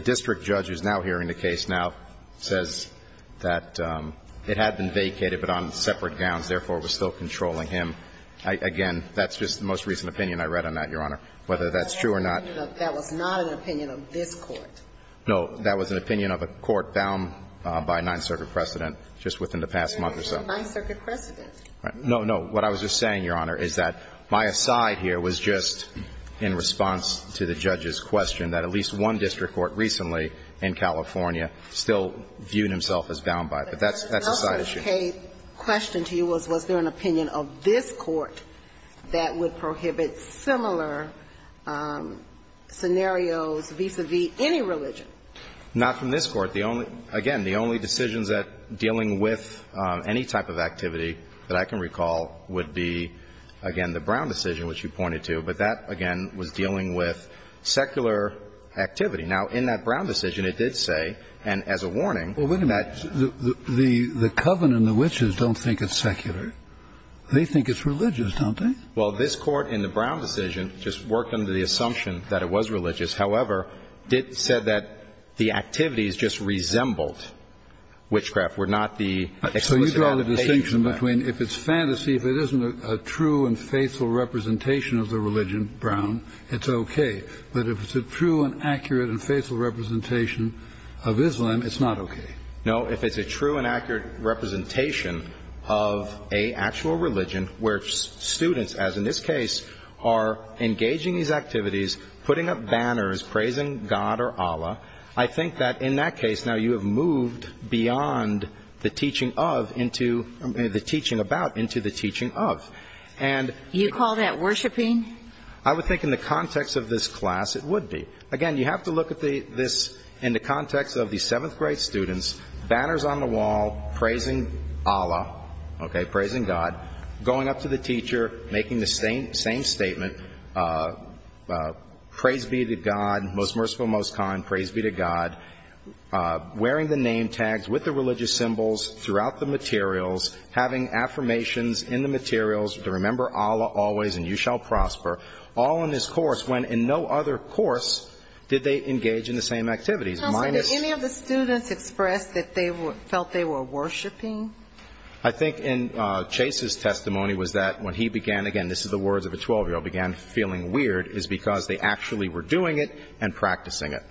district judge who is now hearing the case now says that it had been vacated but on separate grounds, therefore, it was still controlling him. Again, that's just the most recent opinion I read on that, Your Honor, whether that's true or not. That was not an opinion of this court. No, that was an opinion of a court bound by a Ninth Circuit precedent just within the past month or so. Yes, it was a Ninth Circuit precedent. No, no. What I was just saying, Your Honor, is that my aside here was just in response to the judge's question that at least one district court recently in California still viewed himself as bound by it. But that's a side issue. My case question to you was was there an opinion of this court that would prohibit similar scenarios vis-à-vis any religion? Not from this court. Again, the only decisions dealing with any type of activity that I can recall would be, again, the Brown decision, which you pointed to, but that, again, was dealing with secular activity. Now, in that Brown decision, it did say, and as a warning... Well, look at that. The coven and the witches don't think it's secular. They think it's religious, don't they? Well, this court in the Brown decision just worked under the assumption that it was religious. However, it said that the activities just resembled witchcraft, were not the... So you draw the distinction between if it's fantasy, if it isn't a true and faithful representation of the religion, Brown, it's okay. But if it's a true and accurate and faithful representation of Islam, it's not okay. No, if it's a true and accurate representation of a actual religion where students, as in this case, are engaging these activities, putting up banners praising God or Allah, I think that in that case, now, you have moved beyond the teaching of into the teaching about into the teaching of. You call that worshiping? I would think in the context of this class, it would be. Again, you have to look at this in the context of the seventh grade students, banners on the wall, praising Allah, okay, praising God, going up to the teacher, making the same statement, praise be to God, most merciful, most kind, praise be to God, wearing the name tags with the religious symbols throughout the materials, having affirmations in the materials to remember Allah always and you shall prosper, all in this course when in no other course did they engage in the same activities. Did any of the students express that they felt they were worshiping? I think in Chase's testimony was that when he began, again, this is the words of a 12-year-old, began feeling weird, is because they actually were doing it and practicing it.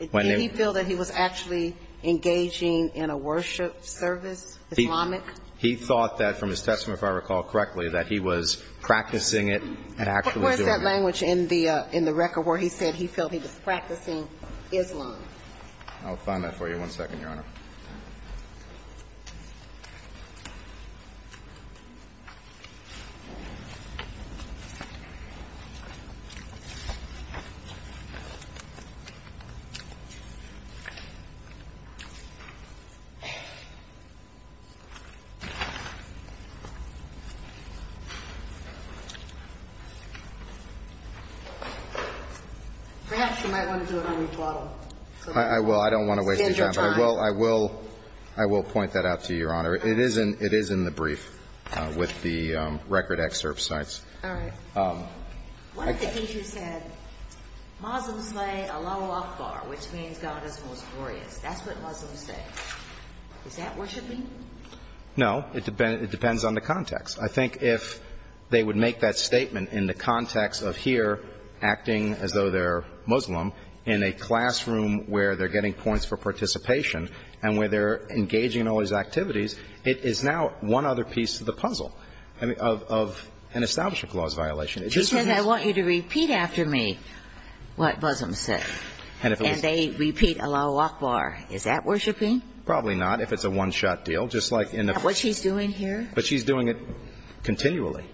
Did he feel that he was actually engaging in a worship service, Islamic? He thought that from his testimony, if I recall correctly, that he was practicing it and actually doing it. Where's that language in the record where he said he felt he was practicing Islam? I'll find that for you. One second, Your Honor. Perhaps you might want to do a little rebuttal. I will. I don't want to wait. I will point that out to you, Your Honor. It is in the brief with the record excerpt sites. All right. What did he say? Muslims say Allahu Akbar, which means God is victorious. That's what Muslims say. Is that worshiping? No. It depends on the context. I think if they would make that statement in the context of here acting as though they're Muslim in a classroom where they're getting points for participation and where they're engaging in all these activities, it is now one other piece of the puzzle of an establishment clause violation. He said, I want you to repeat after me what Muslims say. And they repeat Allahu Akbar. Is that worshiping? Probably not, if it's a one-shot deal. What she's doing here? She's doing it continually.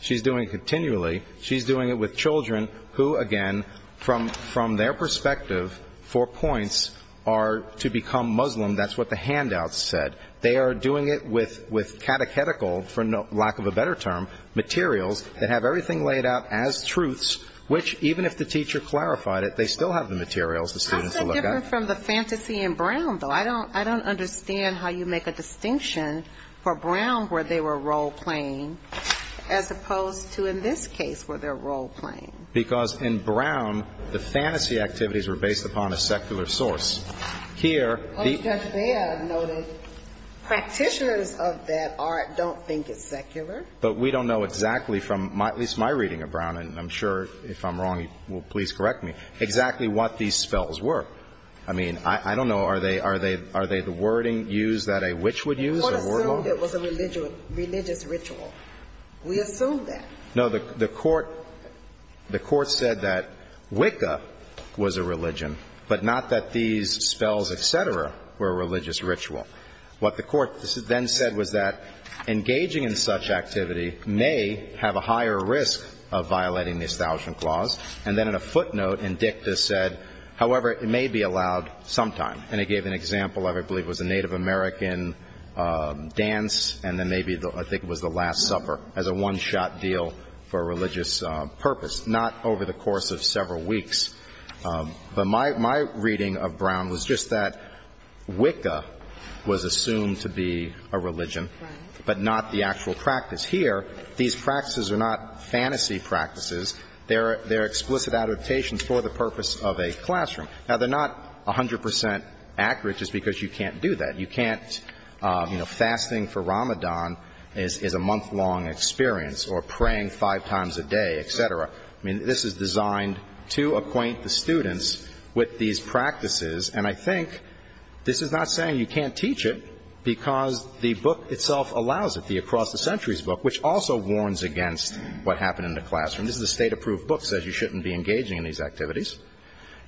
She's doing it continually. She's doing it with children who, again, from their perspective, for points, are to become Muslim. That's what the handouts said. They are doing it with catechetical, for lack of a better term, materials that have everything laid out as truths, which even if the teacher clarified it, they still have the materials for students to look at. How is it different from the fantasy in Brown, though? I don't understand how you make a distinction for Brown where they were role-playing as opposed to in this case where they're role-playing. Because in Brown, the fantasy activities were based upon a secular source. I'll just say, I've noticed, practitioners of that art don't think it's secular. But we don't know exactly from at least my reading of Brown, and I'm sure if I'm wrong, please correct me, exactly what these spells were. I mean, I don't know, are they the wording used that a witch would use? We would assume it was a religious ritual. We assume that. No, the court said that Wicca was a religion, but not that these spells, et cetera, were a religious ritual. What the court then said was that engaging in such activity may have a higher risk of violating the Establishment Clause. And then in a footnote, Indicta said, however, it may be allowed sometime. And it gave an example of, I believe it was a Native American dance, and then maybe I think it was the Last Supper, as a one-shot deal for a religious purpose. Not over the course of several weeks. But my reading of Brown was just that Wicca was assumed to be a religion, but not the actual practice. Here, these practices are not fantasy practices. They're explicit adaptations for the purpose of a classroom. Now, they're not 100% accurate just because you can't do that. You can't, you know, fasting for Ramadan is a month-long experience, or praying five times a day, et cetera. I mean, this is designed to acquaint the students with these practices. And I think this is not saying you can't teach it because the book itself allows it, the Across the Centuries book, which also warns against what happened in the classroom. This is a state-approved book that says you shouldn't be engaging in these activities.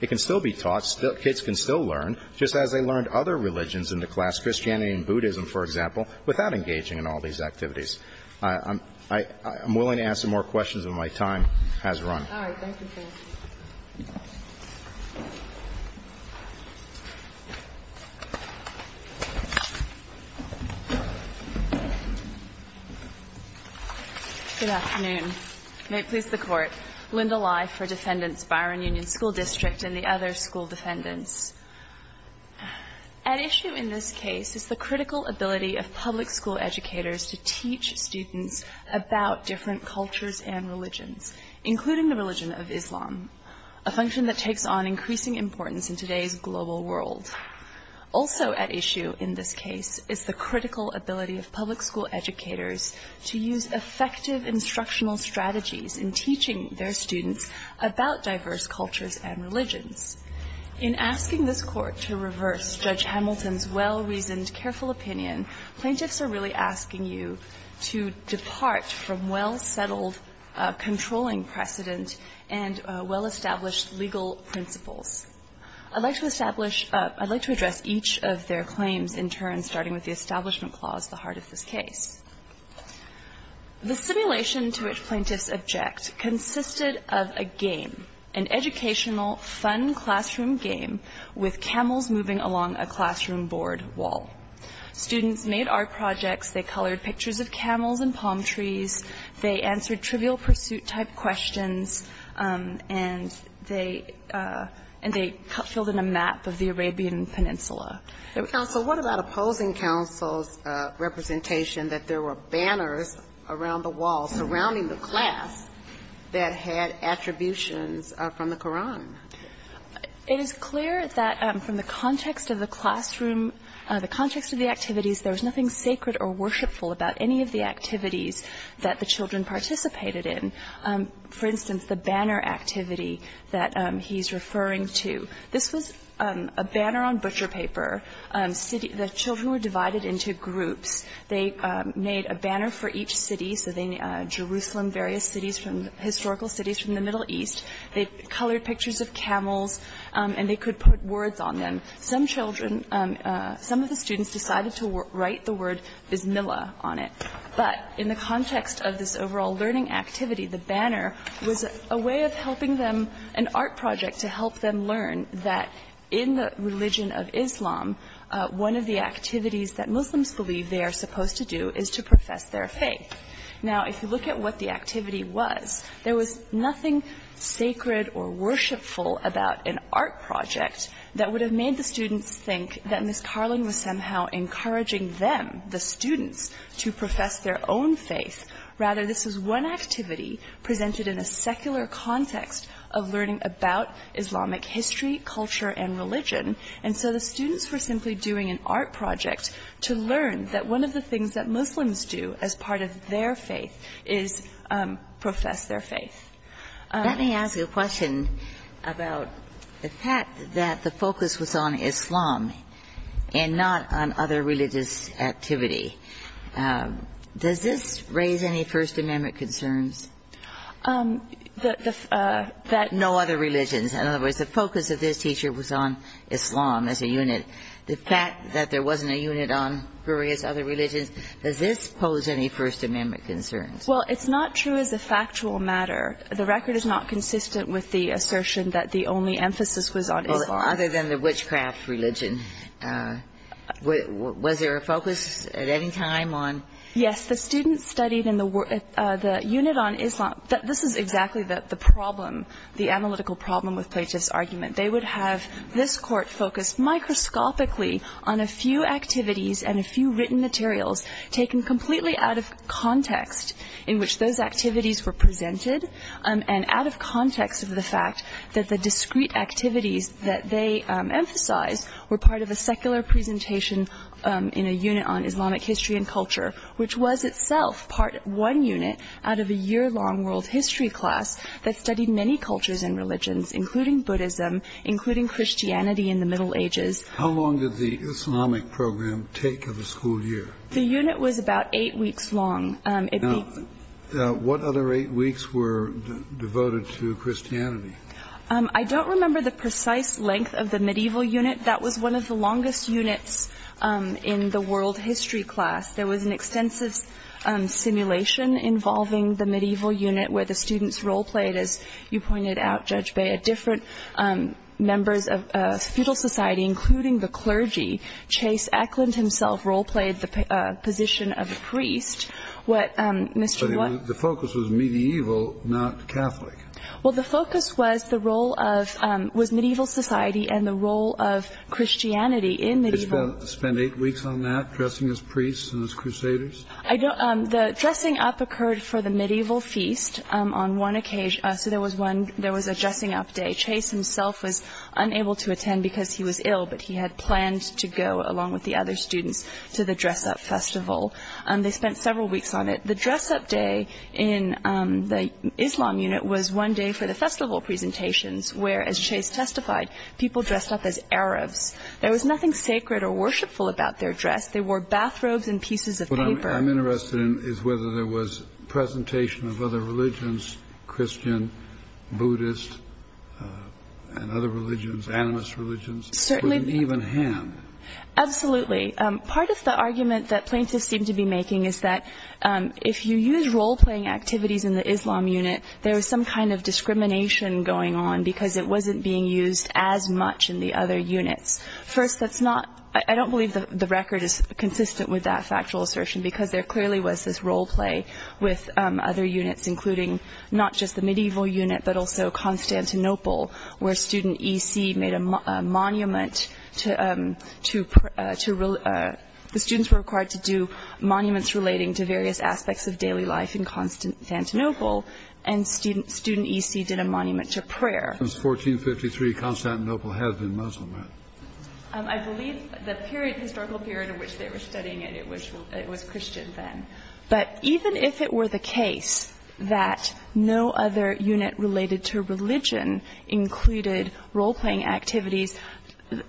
It can still be taught, kids can still learn, just as they learned other religions in the class, Christianity and Buddhism, for example, without engaging in all these activities. I'm willing to ask some more questions when my time has run. All right, thank you. Good afternoon. May it please the Court. Linda Lye for Defendants Byron Union School District and the other school defendants. At issue in this case is the critical ability of public school educators to teach students about different cultures and religions, including the religion of Islam, a function that takes on increasing importance in today's global world. Also at issue in this case is the critical ability of public school educators to use effective instructional strategies in teaching their students about diverse cultures and religions. In asking this Court to reverse Judge Hamilton's well-reasoned, careful opinion, plaintiffs are really asking you to depart from well-settled controlling precedent and well-established legal principles. I'd like to address each of their claims in turn, starting with the Establishment Clause, the hardest of case. The simulation to which plaintiffs object consisted of a game, an educational, fun classroom game, with camels moving along a classroom board wall. Students made art projects, they colored pictures of camels and palm trees, they answered trivial pursuit-type questions, and they filled in a map of the Arabian Peninsula. Counsel, what about opposing counsel's representation that there were banners around the wall surrounding the class that had attributions from the Koran? It is clear that from the context of the classroom, the context of the activities, there was nothing sacred or worshipful about any of the activities that the children participated in. For instance, the banner activity that he's referring to. This was a banner on butcher paper. The children were divided into groups. They made a banner for each city, so Jerusalem, various historical cities from the Middle East. They colored pictures of camels, and they could put words on them. Some children, some of the students decided to write the word bismillah on it. But in the context of this overall learning activity, the banner was a way of helping them, an art project to help them learn that in the religion of Islam, one of the activities that Muslims believe they are supposed to do is to profess their faith. Now, if you look at what the activity was, there was nothing sacred or worshipful about an art project that would have made the students think that Ms. Carlin was somehow encouraging them, the students, to profess their own faith. Rather, this was one activity presented in a secular context of learning about Islamic history, culture, and religion. And so the students were simply doing an art project to learn that one of the things that Muslims do as part of their faith is profess their faith. Let me ask you a question about the fact that the focus was on Islam and not on other religious activity. Does this raise any First Amendment concerns? That no other religion, in other words, the focus of this teacher was on Islam as a unit. The fact that there wasn't a unit on various other religions, does this pose any First Amendment concerns? Well, it's not true as a factual matter. The record is not consistent with the assertion that the only emphasis was on Islam. Other than the witchcraft religion, was there a focus at any time on? Yes, the students studied in the unit on Islam. This is exactly the problem, the analytical problem with Plato's argument. They would have this court focus microscopically on a few activities and a few written materials taken completely out of context in which those activities were presented and out of context of the fact that the discrete activities that they emphasized were part of a secular presentation in a unit on Islamic history and culture, which was itself part one unit out of a year-long world history class that studied many cultures and religions, including Buddhism, including Christianity in the Middle Ages. How long did the Islamic program take of a school year? The unit was about eight weeks long. What other eight weeks were devoted to Christianity? I don't remember the precise length of the medieval unit. That was one of the longest units in the world history class. There was an extensive simulation involving the medieval unit where the students role-played, as you pointed out, Judge Baye, different members of feudal society, including the clergy. Chase Eklund himself role-played the position of a priest. The focus was medieval, not Catholic. Well, the focus was medieval society and the role of Christianity in medieval. Did you spend eight weeks on that, dressing as priests and as crusaders? The dressing up occurred for the medieval feast on one occasion. There was a dressing up day. Chase himself was unable to attend because he was ill, but he had planned to go along with the other students to the dress-up festival. They spent several weeks on it. The dress-up day in the Islam unit was one day for the festival presentations, where, as Chase testified, people dressed up as Arabs. There was nothing sacred or worshipful about their dress. They wore bathrobes and pieces of paper. What I'm interested in is whether there was presentation of other religions, Christian, Buddhist, and other religions, animist religions, with an even hand. Absolutely. Part of the argument that plaintiffs seem to be making is that if you use role-playing activities in the Islam unit, there is some kind of discrimination going on because it wasn't being used as much in the other units. I don't believe the record is consistent with that factual assertion because there clearly was this role-play with other units, including not just the medieval unit but also Constantinople, where the students were required to do monuments relating to various aspects of daily life in Constantinople, and student EC did a monument to prayer. Since 1453, Constantinople has been Muslim, right? I believe the historical period in which they were studying it, it was Christian then. But even if it were the case that no other unit related to religion included role-playing activities,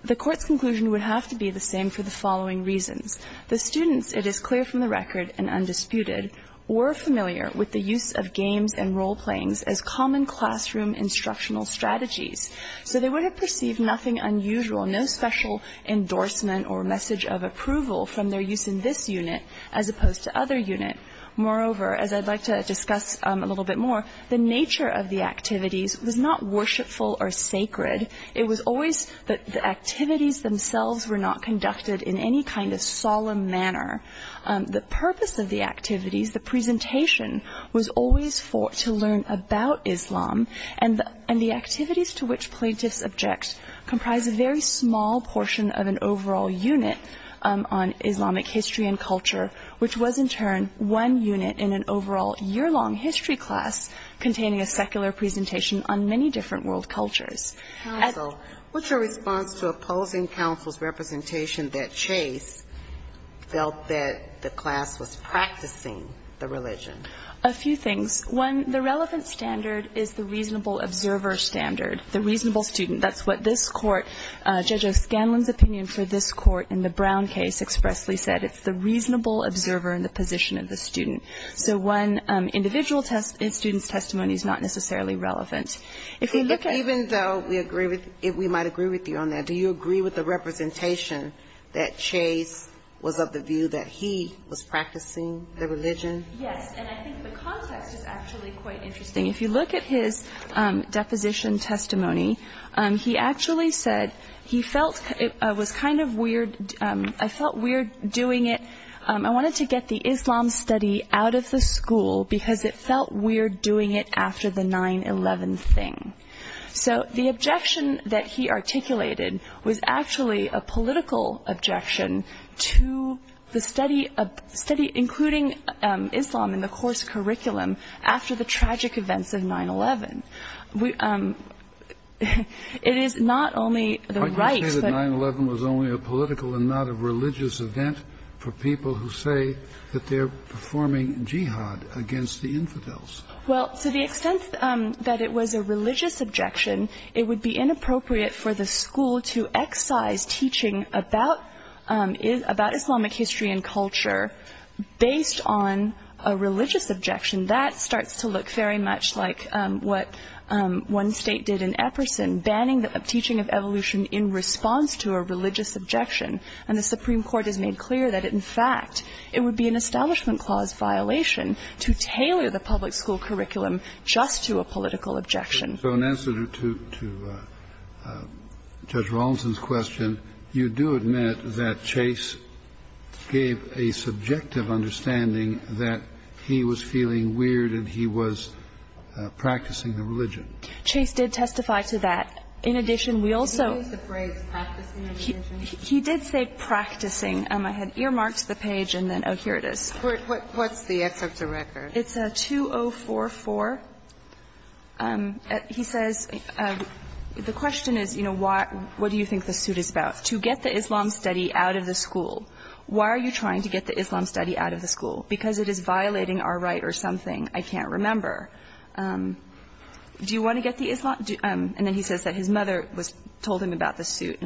the court's conclusion would have to be the same for the following reasons. The students, it is clear from the record and undisputed, were familiar with the use of games and role-playings as common classroom instructional strategies. So they would have perceived nothing unusual, no special endorsement or message of approval from their use in this unit as opposed to other units. Moreover, as I'd like to discuss a little bit more, the nature of the activities was not worshipful or sacred. It was always that the activities themselves were not conducted in any kind of solemn manner. The purpose of the activities, the presentation, was always to learn about Islam, and the activities to which plaintiffs object comprised a very small portion of an overall unit on Islamic history and culture, which was in turn one unit in an overall year-long history class containing a secular presentation on many different world cultures. What's your response to opposing counsel's representation that Chase felt that the class was practicing the religion? A few things. One, the relevant standard is the reasonable observer standard, the reasonable student. That's what this court, Judge O'Scanlan's opinion for this court in the Brown case expressly said. It's the reasonable observer in the position of the student. So one, individual student's testimony is not necessarily relevant. Even though we might agree with you on that, do you agree with the representation that Chase was of the view that he was practicing the religion? Yes, and I think the context is actually quite interesting. If you look at his deposition testimony, he actually said he felt it was kind of weird. I felt weird doing it. I wanted to get the Islam study out of the school because it felt weird doing it after the 9-11 thing. So the objection that he articulated was actually a political objection to the study, including Islam in the course curriculum, after the tragic events of 9-11. It is not only the right... But you say that 9-11 was only a political and not a religious event for people who say that they're performing jihad against the infidels. Well, to the extent that it was a religious objection, it would be inappropriate for the school to excise teaching about Islamic history and culture based on a religious objection. That starts to look very much like what one state did in Epperson, banning the teaching of evolution in response to a religious objection. And the Supreme Court has made clear that, in fact, it would be an establishment clause violation to tailor the public school curriculum just to a political objection. So in answer to Judge Rawlinson's question, you do admit that Chase gave a subjective understanding that he was feeling weird and he was practicing the religion. Chase did testify to that. In addition, we also... What is the phrase, practicing the religion? He did say practicing. I had earmarked the page and then, oh, here it is. What's the edge of the record? It's 2044. He says, the question is, you know, what do you think the suit is about? To get the Islam study out of the school. Why are you trying to get the Islam study out of the school? Because it is violating our right or something. I can't remember. Do you want to get the Islam... And then he says that his mother told him about the suit.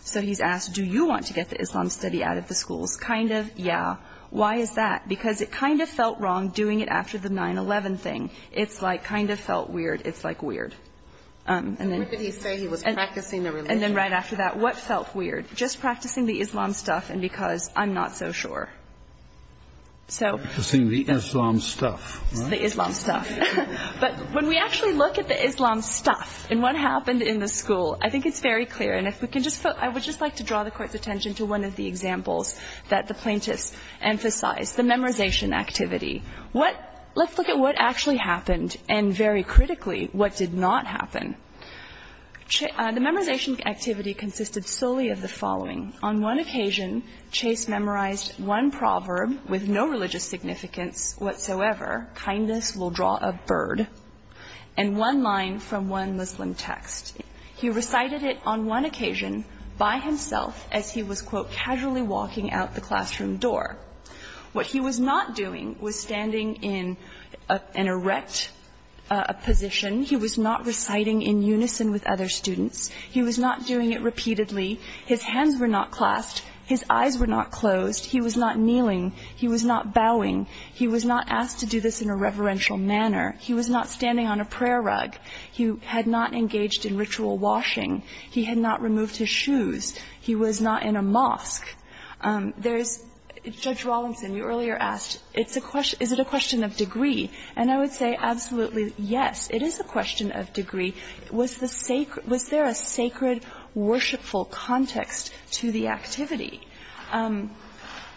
So he's asked, do you want to get the Islam study out of the school? Kind of, yeah. Why is that? Because it kind of felt wrong doing it after the 9-11 thing. It kind of felt weird. It's, like, weird. What did he say? He was practicing the religion. And then right after that, what felt weird? Just practicing the Islam stuff and because I'm not so sure. Practicing the Islam stuff, right? The Islam stuff. But when we actually look at the Islam stuff and what happened in the school, I think it's very clear. I would just like to draw the court's attention to one of the examples that the plaintiffs emphasized. The memorization activity. Let's look at what actually happened and, very critically, what did not happen. The memorization activity consisted solely of the following. On one occasion, Chase memorized one proverb with no religious significance whatsoever, kindness will draw a bird, and one line from one Muslim text. He recited it on one occasion by himself as he was, quote, casually walking out the classroom door. What he was not doing was standing in an erect position. He was not reciting in unison with other students. He was not doing it repeatedly. His hands were not clasped. His eyes were not closed. He was not kneeling. He was not bowing. He was not asked to do this in a reverential manner. He was not standing on a prayer rug. He had not engaged in ritual washing. He had not removed his shoes. He was not in a mosque. Judge Rawlinson, you earlier asked, is it a question of degree? And I would say absolutely, yes, it is a question of degree. Was there a sacred, worshipful context to the activity?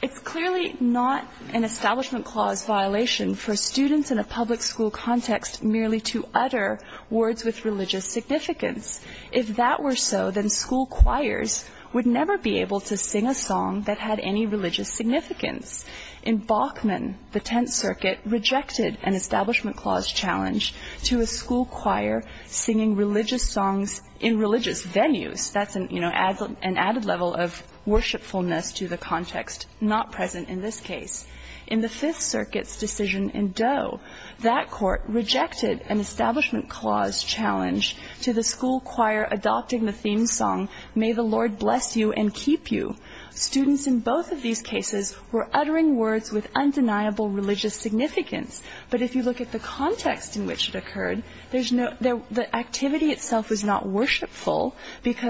It's clearly not an Establishment Clause violation for students in a public school context merely to utter words with religious significance. If that were so, then school choirs would never be able to sing a song that had any religious significance. In Bachman, the Tenth Circuit rejected an Establishment Clause challenge to a school choir singing religious songs in religious venues. That's an added level of worshipfulness to the context not present in this case. In the Fifth Circuit's decision in Doe, that court rejected an Establishment Clause challenge to the school choir adopting the theme song, May the Lord Bless You and Keep You. Students in both of these cases were uttering words with undeniable religious significance. But if you look at the context in which it occurred, the activity itself was not worshipful,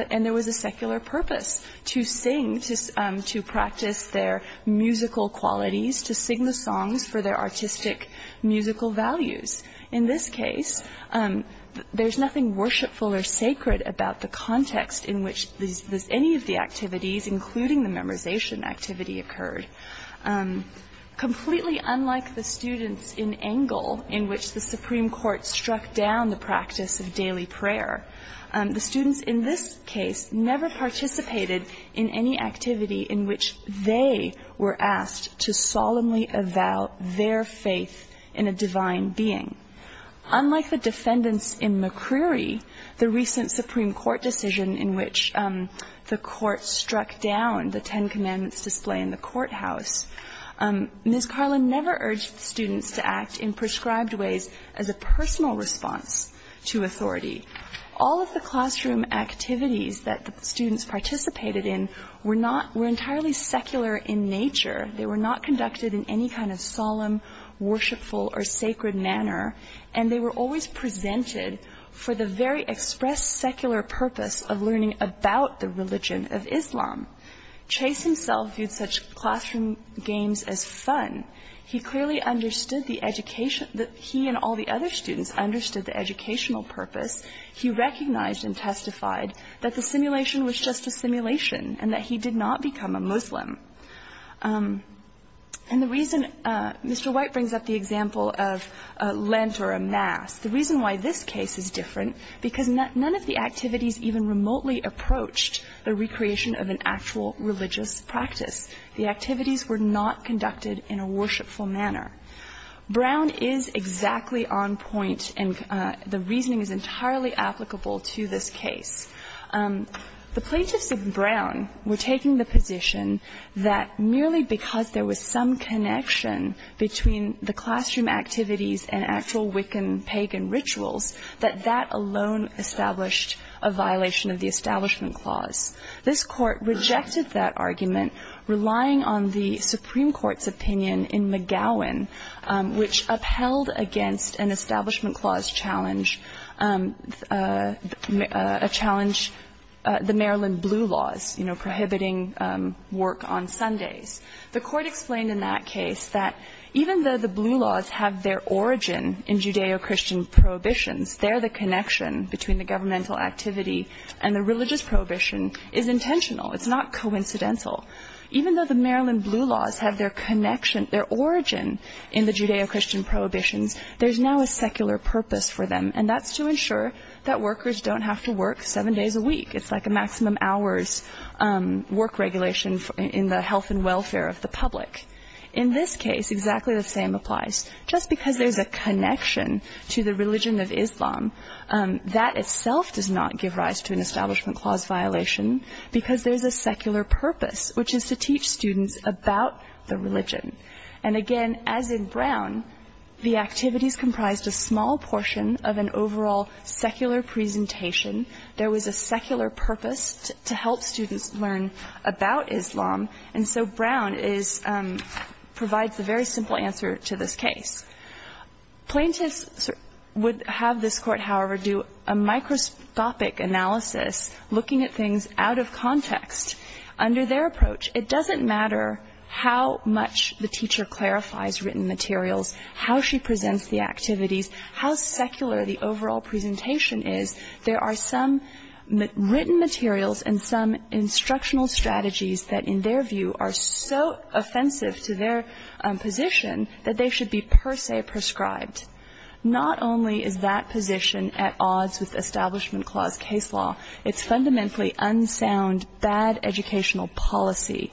and there was a secular purpose to sing, to practice their musical qualities, to sing the songs for their artistic, musical values. In this case, there's nothing worshipful or sacred about the context in which any of the activities, including the memorization activity, occurred. Completely unlike the students in Engel, in which the Supreme Court struck down the practice of daily prayer, the students in this case never participated in any activity in which they were asked to solemnly avow their faith in a divine being. Unlike the defendants in McCreary, the recent Supreme Court decision in which the court struck down the Ten Commandments display in the courthouse, Ms. Carlin never urged students to act in prescribed ways as a personal response to authority. All of the classroom activities that the students participated in were entirely secular in nature. They were not conducted in any kind of solemn, worshipful, or sacred manner, and they were always presented for the very express secular purpose of learning about the religion of Islam. Chase himself viewed such classroom games as fun. He and all the other students understood the educational purpose. He recognized and testified that the simulation was just a simulation and that he did not become a Muslim. Mr. White brings up the example of Lent or a Mass. The reason why this case is different is because none of the activities even remotely approached the recreation of an actual religious practice. The activities were not conducted in a worshipful manner. Brown is exactly on point, and the reasoning is entirely applicable to this case. The plaintiffs of Brown were taking the position that merely because there was some connection between the classroom activities and actual Wiccan pagan rituals, that that alone established a violation of the Establishment Clause. This court rejected that argument, relying on the Supreme Court's opinion in McGowan, which upheld against an Establishment Clause challenge, the Maryland Blue Laws prohibiting work on Sundays. The court explained in that case that even though the Blue Laws have their origin in Judeo-Christian prohibitions, their connection between the governmental activity and the religious prohibition is intentional. It's not coincidental. Even though the Maryland Blue Laws have their connection, their origin in the Judeo-Christian prohibition, there's now a secular purpose for them, and that's to ensure that workers don't have to work seven days a week. It's like a maximum hours work regulation in the health and welfare of the public. In this case, exactly the same applies. Just because there's a connection to the religion of Islam, that itself does not give rise to an Establishment Clause violation, because there's a secular purpose, which is to teach students about the religion. And again, as in Brown, the activities comprised a small portion of an overall secular presentation. There was a secular purpose to help students learn about Islam. And so Brown provides a very simple answer to this case. Plaintiffs would have this court, however, do a microscopic analysis, looking at things out of context. Under their approach, it doesn't matter how much the teacher clarifies written materials, how she presents the activities, how secular the overall presentation is, there are some written materials and some instructional strategies that, in their view, are so offensive to their position that they should be per se prescribed. Not only is that position at odds with Establishment Clause case law, it's fundamentally unsound, bad educational policy.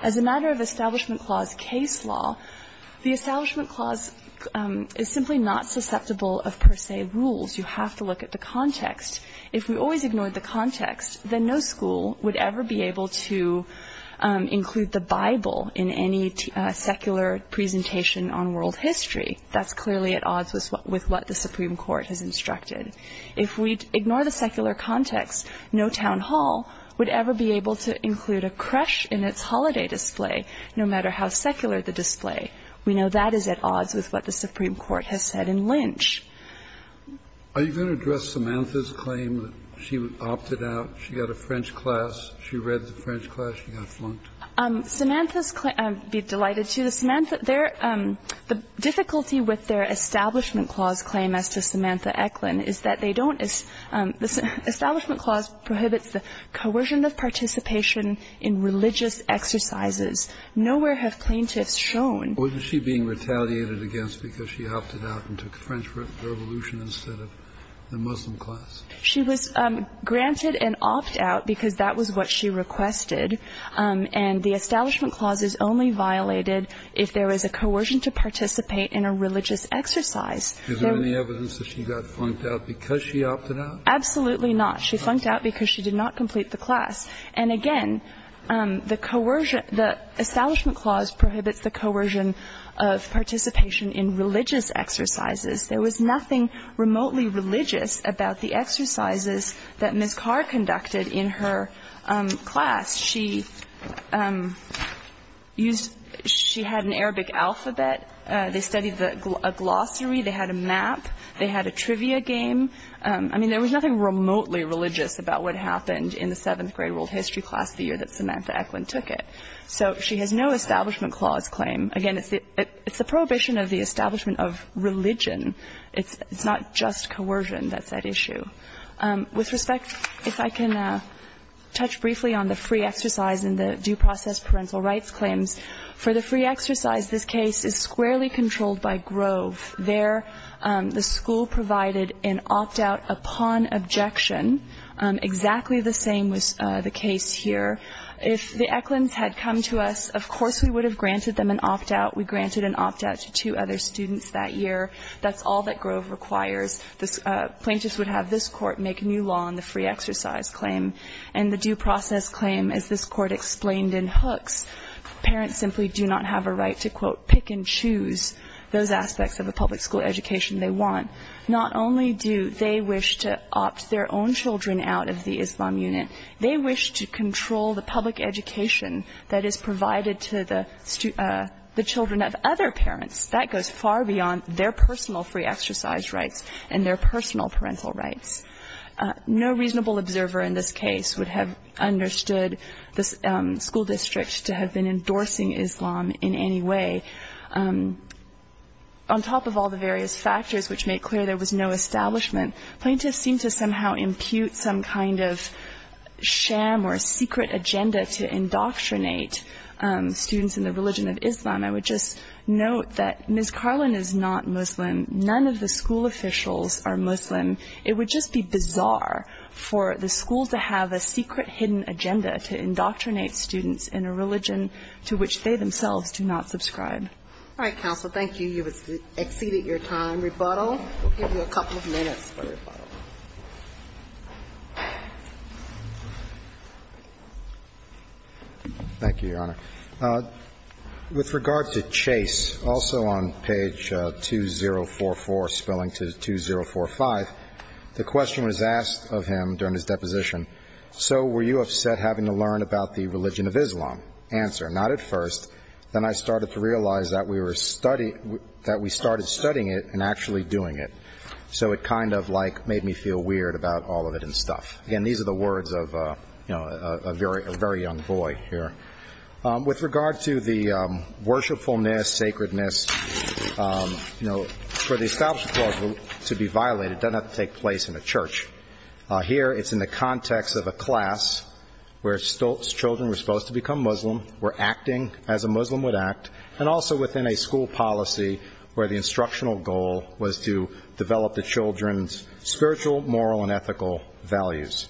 As a matter of Establishment Clause case law, the Establishment Clause is simply not susceptible of per se rules. You have to look at the context. If we always ignored the context, then no school would ever be able to include the Bible in any secular presentation on world history. That's clearly at odds with what the Supreme Court has instructed. If we ignore the secular context, no town hall would ever be able to include a crush in its holiday display, no matter how secular the display. We know that is at odds with what the Supreme Court has said in Lynch. Are you going to address Samantha's claim that she opted out? She got a French class. She read the French class. She got flunked. Samantha's claim, I'd be delighted to. The difficulty with their Establishment Clause claim after Samantha Eklund is that they don't – Establishment Clause prohibits the coercion of participation in religious exercises. Nowhere have plaintiffs shown – Wasn't she being retaliated against because she opted out and took French Revolution instead of the Muslim class? She was granted an opt-out because that was what she requested. And the Establishment Clause is only violated if there is a coercion to participate in a religious exercise. Is there any evidence that she got flunked out because she opted out? Absolutely not. She flunked out because she did not complete the class. And, again, the Establishment Clause prohibits the coercion of participation in religious exercises. There was nothing remotely religious about the exercises that Ms. Carr conducted in her class. She had an Arabic alphabet. They studied a glossary. They had a map. They had a trivia game. I mean, there was nothing remotely religious about what happened in the seventh-grade world history class the year that Samantha Eklund took it. So she had no Establishment Clause claim. Again, it's the prohibition of the establishment of religion. It's not just coercion that's at issue. With respect, if I can touch briefly on the free exercise and the due process parental rights claims. For the free exercise, this case is squarely controlled by Grove. There the school provided an opt-out upon objection. Exactly the same was the case here. If the Eklunds had come to us, of course we would have granted them an opt-out. We granted an opt-out to two other students that year. That's all that Grove requires. The plaintiffs would have this court make new law on the free exercise claim. And the due process claim, as this court explained in Hooks, parents simply do not have a right to, quote, pick and choose those aspects of a public school education they want. Not only do they wish to opt their own children out of the Islam unit, they wish to control the public education that is provided to the children of other parents. That goes far beyond their personal free exercise rights and their personal parental rights. No reasonable observer in this case would have understood the school district to have been endorsing Islam in any way. On top of all the various factors which make clear there was no establishment, plaintiffs seem to somehow impute some kind of sham or secret agenda to indoctrinate students in the religion of Islam. I would just note that Ms. Carlin is not Muslim. None of the school officials are Muslim. It would just be bizarre for the school to have a secret, hidden agenda to indoctrinate students in a religion to which they themselves do not subscribe. All right, counsel. Thank you. You have exceeded your time. Rebuttal. Thank you, Your Honor. With regard to Chase, also on page 2044 spelling to 2045, the question was asked of him during his deposition, so were you upset having to learn about the religion of Islam? Answer, not at first. Then I started to realize that we started studying it and actually doing it. So it kind of like made me feel weird about all of it and stuff. Again, these are the words of a very young boy here. With regard to the worshipfulness, sacredness, for the establishment clause to be violated, it doesn't have to take place in a church. Here it's in the context of a class where children were supposed to become Muslim, were acting as a Muslim would act, and also within a school policy where the instructional goal was to develop the children's spiritual, moral, and ethical values.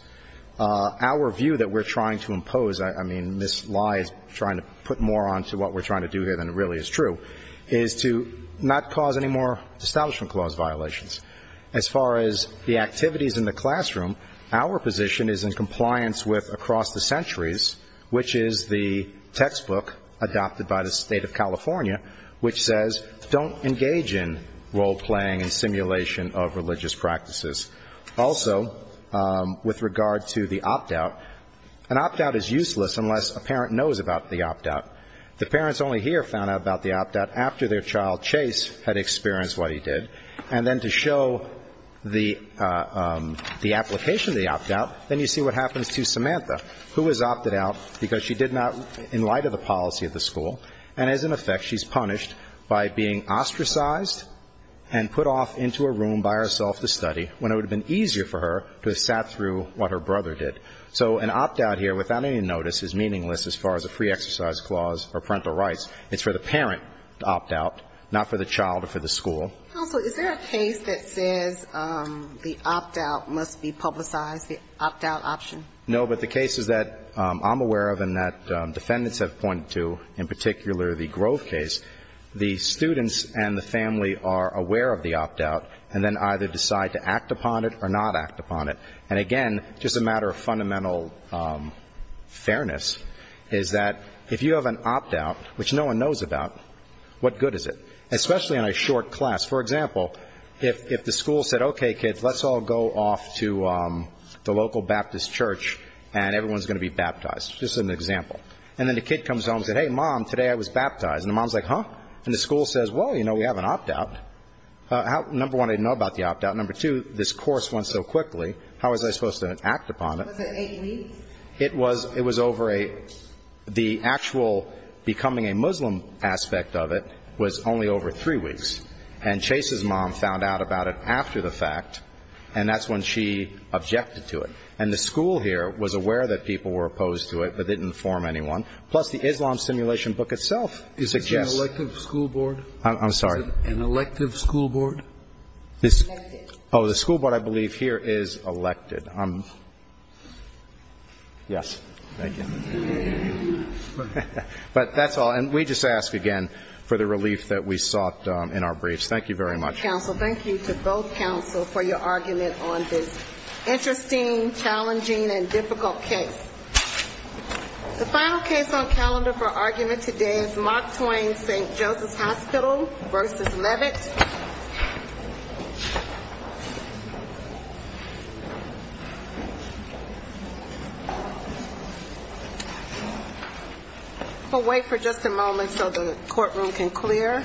Our view that we're trying to impose, I mean, Ms. Lye is trying to put more onto what we're trying to do here than really is true, is to not cause any more establishment clause violations. As far as the activities in the classroom, our position is in compliance with Across the Centuries, which is the textbook adopted by the state of California, which says don't engage in role-playing and simulation of religious practices. Also, with regard to the opt-out, an opt-out is useless unless a parent knows about the opt-out. The parents only hear about the opt-out after their child Chase had experienced what he did. And then to show the application of the opt-out, then you see what happens to Samantha, who is opted out because she did not, in light of the policy of the school, and as an effect, she's punished by being ostracized and put off into a room by herself to study when it would have been easier for her to have sat through what her brother did. So an opt-out here, without any notice, is meaningless as far as a pre-exercise clause or parental rights. It's for the parent to opt out, not for the child or for the school. Is there a case that says the opt-out must be publicized, the opt-out option? No, but the cases that I'm aware of and that defendants have pointed to, in particular the Grove case, the students and the family are aware of the opt-out and then either decide to act upon it or not act upon it. And again, just a matter of fundamental fairness, is that if you have an opt-out, which no one knows about, what good is it? Especially in a short class. For example, if the school said, Okay, kids, let's all go off to the local Baptist church and everyone's going to be baptized. Just an example. And then the kid comes home and says, Hey, Mom, today I was baptized. And the mom's like, Huh? And the school says, Well, you know, we have an opt-out. Number one, they didn't know about the opt-out. Number two, this course went so quickly, how was I supposed to act upon it? Was it 80 weeks? It was over a—the actual becoming a Muslim aspect of it was only over three weeks. And Chase's mom found out about it after the fact, and that's when she objected to it. And the school here was aware that people were opposed to it but didn't inform anyone. Plus, the Islam Simulation book itself suggests— Is it an elective school board? I'm sorry? An elective school board? Oh, the school board, I believe, here is elected. Yes. Thank you. But that's all. And we just ask, again, for the relief that we sought in our briefs. Thank you very much. Thank you, counsel. Thank you to both counsel for your argument on this interesting, challenging, and difficult case. The final case on calendar for argument today is Mark Twain St. Joseph Hospital v. Levitt. We'll wait for just a moment so the courtroom can clear.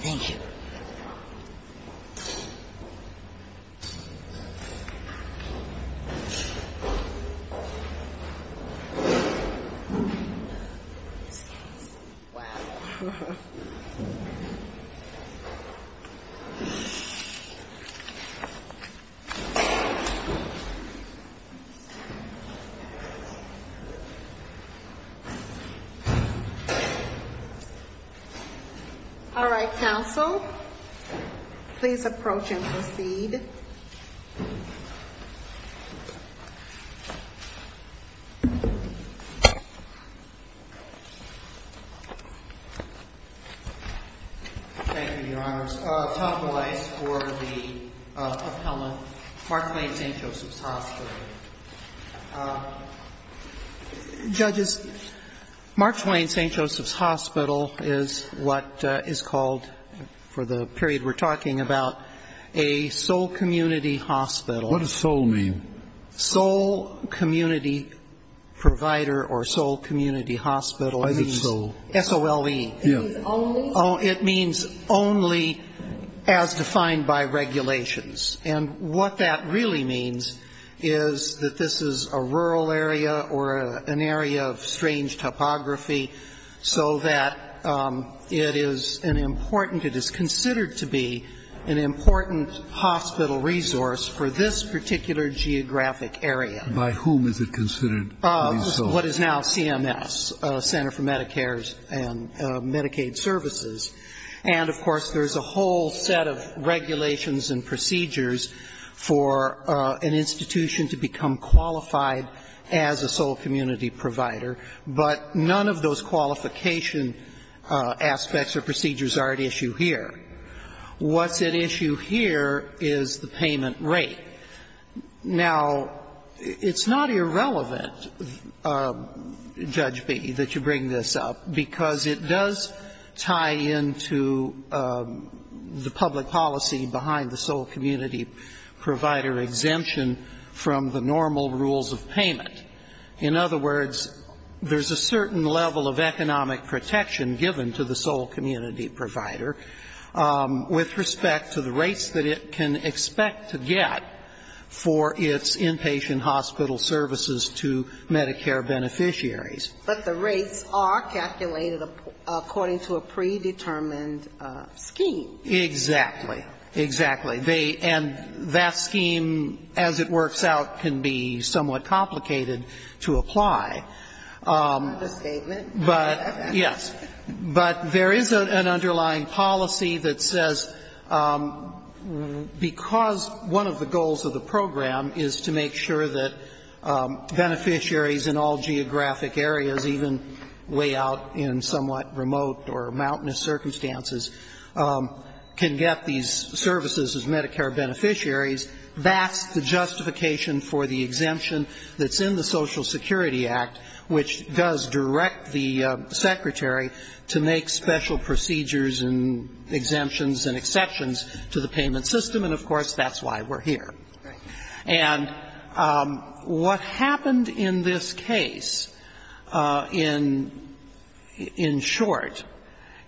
Thank you. All right, counsel. Please approach and proceed. Thank you, Your Honors. Tuck away for the performance of Mark Twain St. Joseph Hospital. Judges, Mark Twain St. Joseph Hospital is what is called, for the period we're talking about, a soul community hospital. What does soul mean? Soul community provider or soul community hospital. I think soul. S-O-L-E. Yes. It means only as defined by regulations. And what that really means is that this is a rural area or an area of strange topography so that it is an important, it is considered to be an important hospital resource for this particular geographic area. By whom is it considered? What is now CMS, Center for Medicare and Medicaid Services. And, of course, there's a whole set of regulations and procedures for an institution to become qualified as a soul community provider, but none of those qualification aspects or procedures are at issue here. What's at issue here is the payment rate. Now, it's not irrelevant, Judge B., that you bring this up because it does tie into the public policy behind the soul community provider exemption from the normal rules of payment. In other words, there's a certain level of economic protection given to the soul community provider with respect to the rates that it can expect to get for its inpatient hospital services to Medicare beneficiaries. But the rates are calculated according to a predetermined scheme. Exactly. Exactly. And that scheme, as it works out, can be somewhat complicated to apply. That's a statement. Yes. is to make sure that beneficiaries in all geographic areas, even way out in somewhat remote or mountainous circumstances, can get these services as Medicare beneficiaries. That's the justification for the exemption that's in the Social Security Act, which does direct the secretary to make special procedures and exemptions and exceptions to the payment system. And, of course, that's why we're here. And what happened in this case, in short,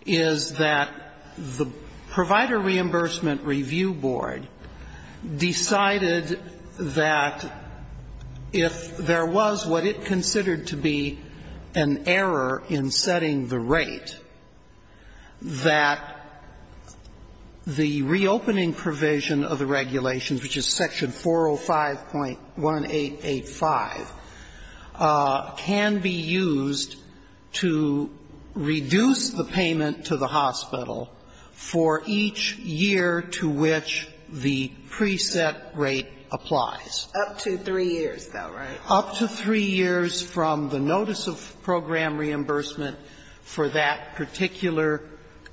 is that the Provider Reimbursement Review Board decided that if there was what it considered to be an error in setting the rate, that the reopening provision of the regulations, which is Section 405.1885, can be used to reduce the payment to the hospital for each year to which the preset rate applies. Up to three years, though, right? for that particular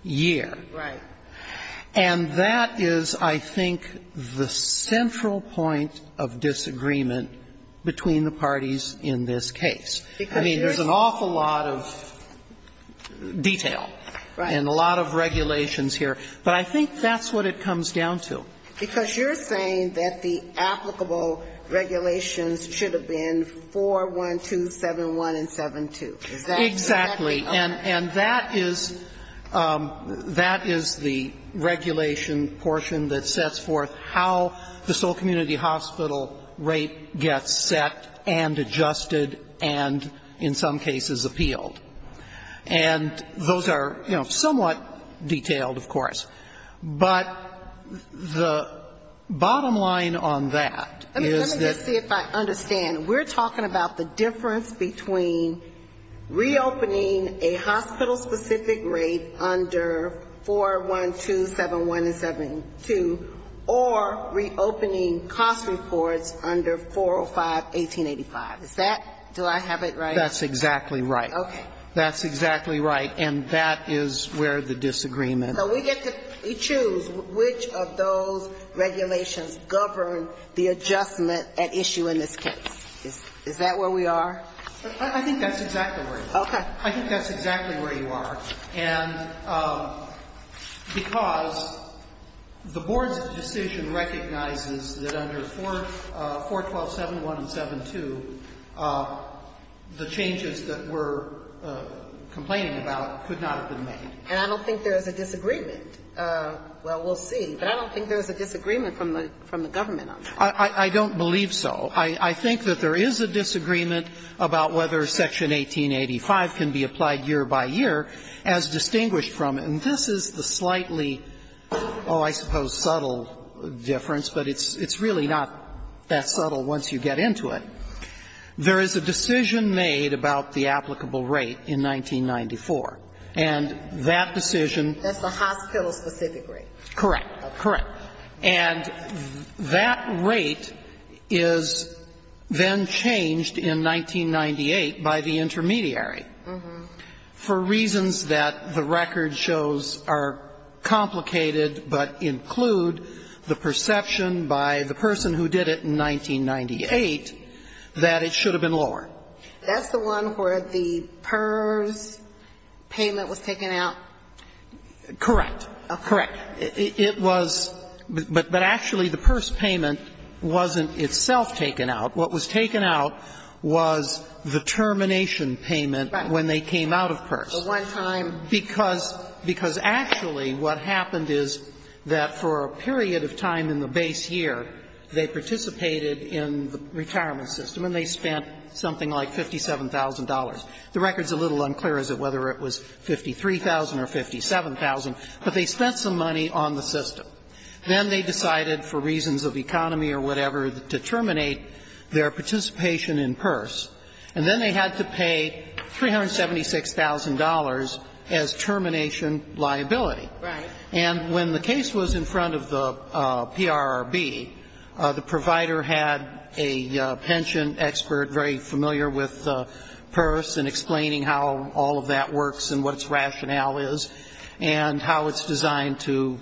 year. Right. And that is, I think, the central point of disagreement between the parties in this case. I mean, there's an awful lot of detail and a lot of regulations here, but I think that's what it comes down to. Because you're saying that the applicable regulations should have been 412, 71, and 72. Exactly. And that is the regulation portion that sets forth how the sole community hospital rate gets set and adjusted and, in some cases, appealed. And those are, you know, somewhat detailed, of course. But the bottom line on that is that- Let me just see if I understand. We're talking about the difference between reopening a hospital-specific rate under 412, 71, and 72, or reopening cost reports under 405, 1885. Is that- Do I have it right? That's exactly right. Okay. That's exactly right. And that is where the disagreement- So we get to choose which of those regulations govern the adjustment at issue in this case. Is that where we are? I think that's exactly right. Okay. I think that's exactly where you are. And because the board's decision recognizes that under 412, 71, and 72, the changes that we're complaining about could not have been made. And I don't think there is a disagreement. Well, we'll see. But I don't think there's a disagreement from the government on that. I don't believe so. I think that there is a disagreement about whether Section 1885 can be applied year by year as distinguished from it. And this is the slightly, oh, I suppose subtle difference, but it's really not that subtle once you get into it. There is a decision made about the applicable rate in 1994. And that decision- That's a hospital-specific rate. Correct, correct. And that rate is then changed in 1998 by the intermediary for reasons that the record shows are complicated but include the perception by the person who did it in 1998 that it should have been lowered. That's the one where the PERS payment was taken out? Correct, correct. But actually the PERS payment wasn't itself taken out. What was taken out was the termination payment when they came out of PERS. The one time- Because actually what happened is that for a period of time in the base year, they participated in the retirement system, and they spent something like $57,000. The record's a little unclear as to whether it was $53,000 or $57,000, but they spent some money on the system. Then they decided, for reasons of economy or whatever, to terminate their participation in PERS. And then they had to pay $376,000 as termination liability. Right. And when the case was in front of the PRRB, the provider had a pension expert very familiar with PERS and explaining how all of that works and what its rationale is. And how it's designed to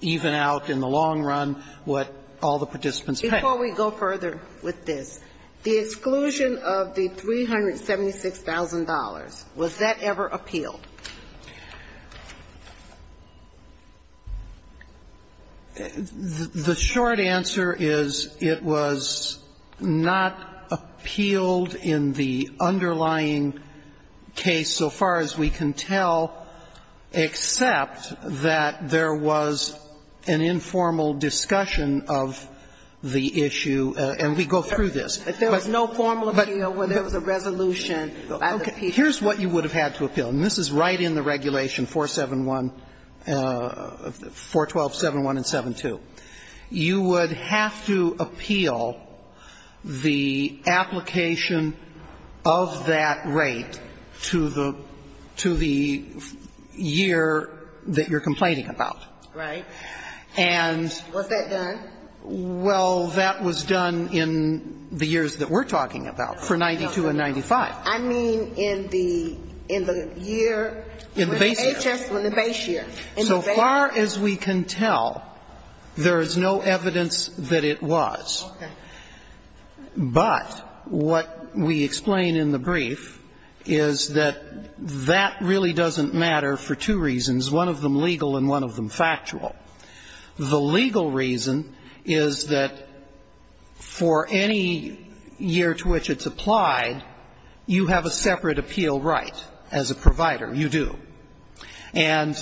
even out in the long run what all the participants pay. Before we go further with this, the exclusion of the $376,000, was that ever appealed? The short answer is it was not appealed in the underlying case so far as we can tell. Except that there was an informal discussion of the issue, and we go through this. There was no formal appeal when there was a resolution. Okay, here's what you would have had to appeal, and this is right in the regulation 412.71 and 7.2. You would have to appeal the application of that rate to the year that you're complaining about. Right. And... Was that done? Well, that was done in the years that we're talking about, for 92 and 95. I mean in the year when the base year. So far as we can tell, there is no evidence that it was. But what we explain in the brief is that that really doesn't matter for two reasons, one of them legal and one of them factual. The legal reason is that for any year to which it's applied, you have a separate appeal right as a provider. You do. And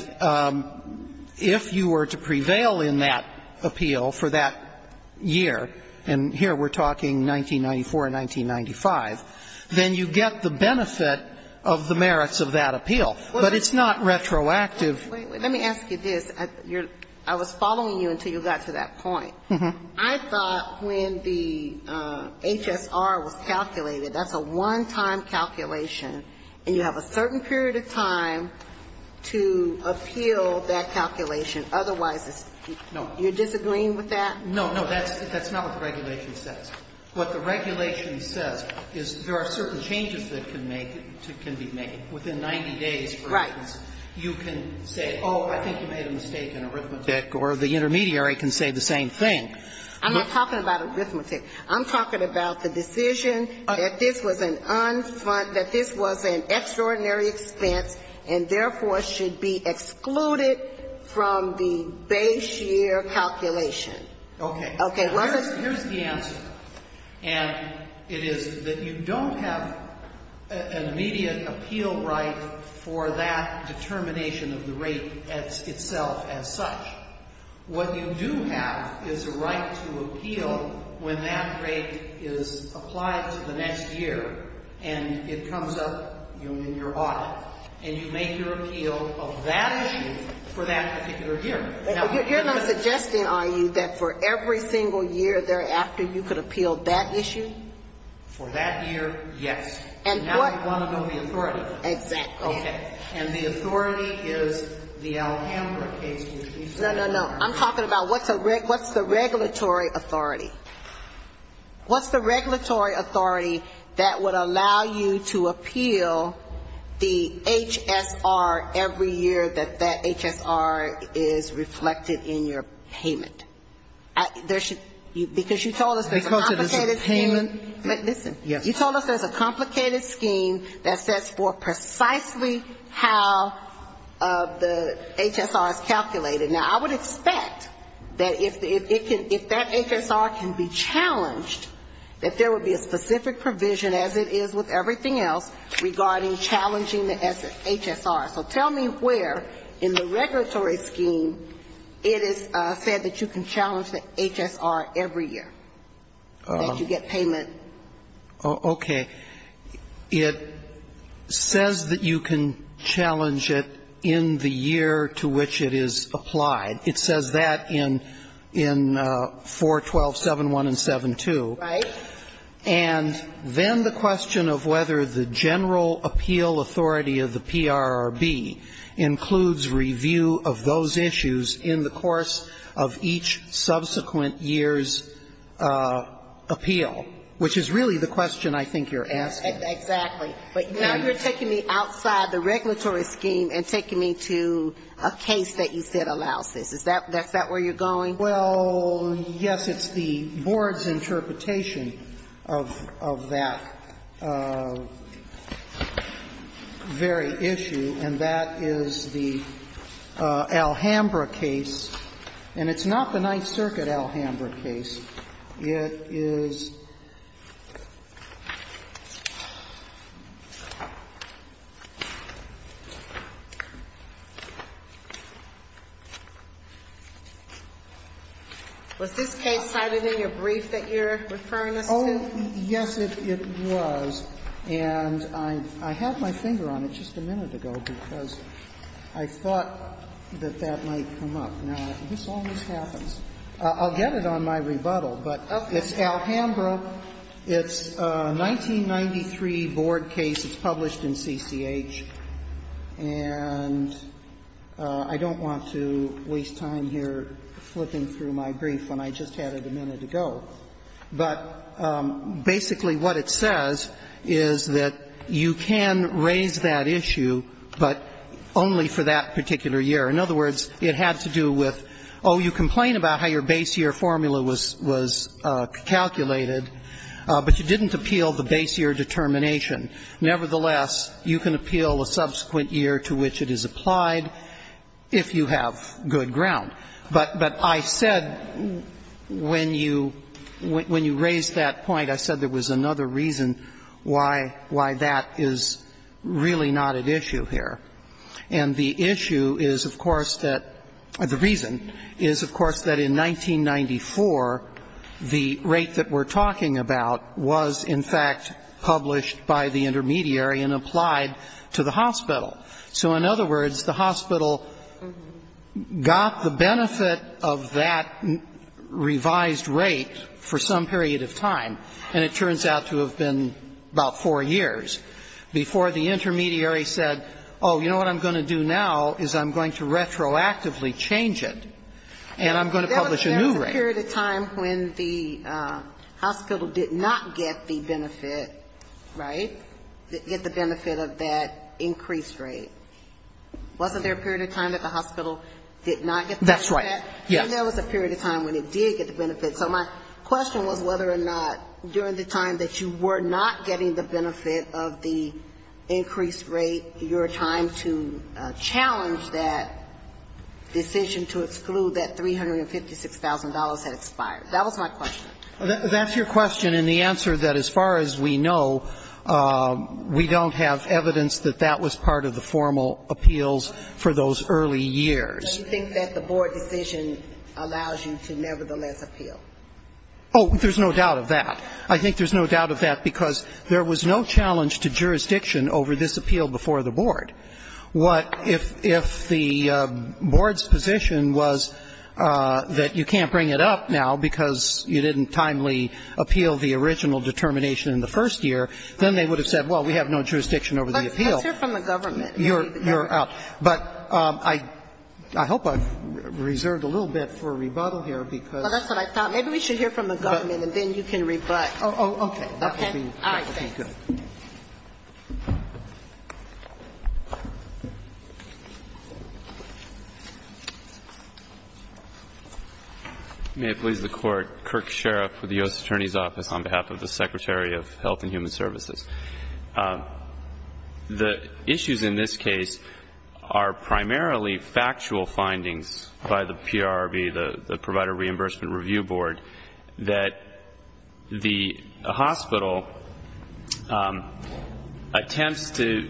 if you were to prevail in that appeal for that year, and here we're talking 1994 and 1995, then you get the benefit of the merits of that appeal, but it's not retroactive. Let me ask you this. I was following you until you got to that point. I thought when the HSR was calculated, that's a one-time calculation, and you have a certain period of time to appeal that calculation. Otherwise, you're disagreeing with that? No, no, that's not what the regulation says. What the regulation says is there are certain changes that can be made within 90 days. Right. You can say, oh, I think you made a mistake in arithmetic, or the intermediary can say the same thing. I'm not talking about arithmetic. I'm talking about the decision that this was an extraordinary expense and therefore should be excluded from the base year calculation. Okay. Here's the answer, and it is that you don't have an immediate appeal right What you do have is a right to appeal when that rate is applied to the next year, and it comes up in your audit. And you make your appeal of that issue for that particular year. But you're not suggesting, are you, that for every single year thereafter, you could appeal that issue? For that year, yes. And now you want to know the authority. Exactly. Okay. And the authority is the Alhambra case. No, no, no. I'm talking about what's the regulatory authority. What's the regulatory authority that would allow you to appeal the HSR every year that that HSR is reflected in your payment? Because you told us there's a complicated scheme. You told us there's a complicated scheme that sets for precisely how the HSR is calculated. Now, I would expect that if that HSR can be challenged, that there would be a specific provision, as it is with everything else, regarding challenging the HSR. So tell me where in the regulatory scheme it is said that you can challenge the HSR every year that you get payment. Okay. It says that you can challenge it in the year to which it is applied. It says that in 4.12.7.1 and 7.2. Right. And then the question of whether the general appeal authority of the PRRB includes review of those issues in the course of each subsequent year's appeal, which is really the question I think you're asking. Exactly. But you're taking me outside the regulatory scheme and taking me to a case that you said allows it. Is that where you're going? Well, yes, it's the board's interpretation of that very issue, and that is the Alhambra case. And it's not the Ninth Circuit Alhambra case. It is... Was this case cited in your brief that you're referring to? Oh, yes, it was. And I had my finger on it just a minute ago because I thought that that might come up. Now, this always happens. I'll get it on my rebuttal, but it's Alhambra. It's a 1993 board case. It's published in CCH. And I don't want to waste time here flipping through my brief when I just had it a minute ago. But basically what it says is that you can raise that issue, but only for that particular year. In other words, it had to do with, oh, you complain about how your base year formula was calculated, but you didn't appeal the base year determination. Nevertheless, you can appeal a subsequent year to which it is applied if you have good ground. But I said when you raised that point, I said there was another reason why that is really not at issue here. And the issue is, of course, that... The reason is, of course, that in 1994, the rate that we're talking about was, in fact, published by the intermediary and applied to the hospital. So, in other words, the hospital got the benefit of that revised rate for some period of time, and it turns out to have been about four years before the intermediary said, oh, you know what I'm going to do now is I'm going to retroactively change it, and I'm going to publish a new rate. There was a period of time when the hospital did not get the benefit, right, get the benefit of that increased rate. Wasn't there a period of time that the hospital did not get the benefit? That's right, yes. And there was a period of time when it did get the benefit, but my question was whether or not during the time that you were not getting the benefit of the increased rate, you were trying to challenge that decision to exclude that $356,000 had expired. That was my question. That's your question and the answer that, as far as we know, we don't have evidence that that was part of the formal appeals for those early years. Do you think that the board decision allows you to nevertheless appeal? Oh, there's no doubt of that. I think there's no doubt of that because there was no challenge to jurisdiction over this appeal before the board. What if the board's position was that you can't bring it up now because you didn't timely appeal the original determination in the first year, then they would have said, well, we have no jurisdiction over the appeal. But you're from the government. But I hope I reserved a little bit for rebuttal here because... Well, that's what I thought. Maybe we should hear from the government and then you can rebut. Oh, okay. Okay. All right. Thank you. May it please the Court. Kirk Sherriff with the U.S. Attorney's Office on behalf of the Secretary of Health and Human Services. The issues in this case are primarily factual findings by the PRRB, the Provider Reimbursement Review Board, that the hospital attempts to...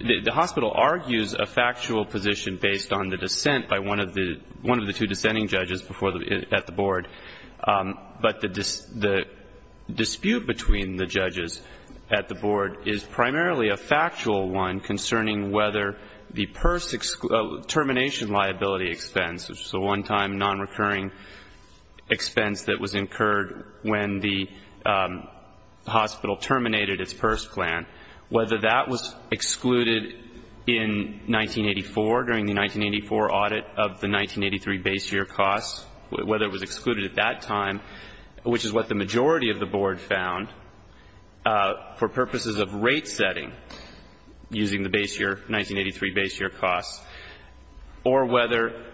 The hospital argues a factual position based on the dissent by one of the two dissenting judges at the board. But the dispute between the judges at the board is primarily a factual one concerning whether the PERS termination liability expense, which is the one-time non-recurring expense that was incurred when the hospital terminated its PERS plan, whether that was excluded in 1984 during the 1984 audit of the 1983 base year costs, whether it was excluded at that time, which is what the majority of the board found, for purposes of rate setting using the 1983 base year costs, or whether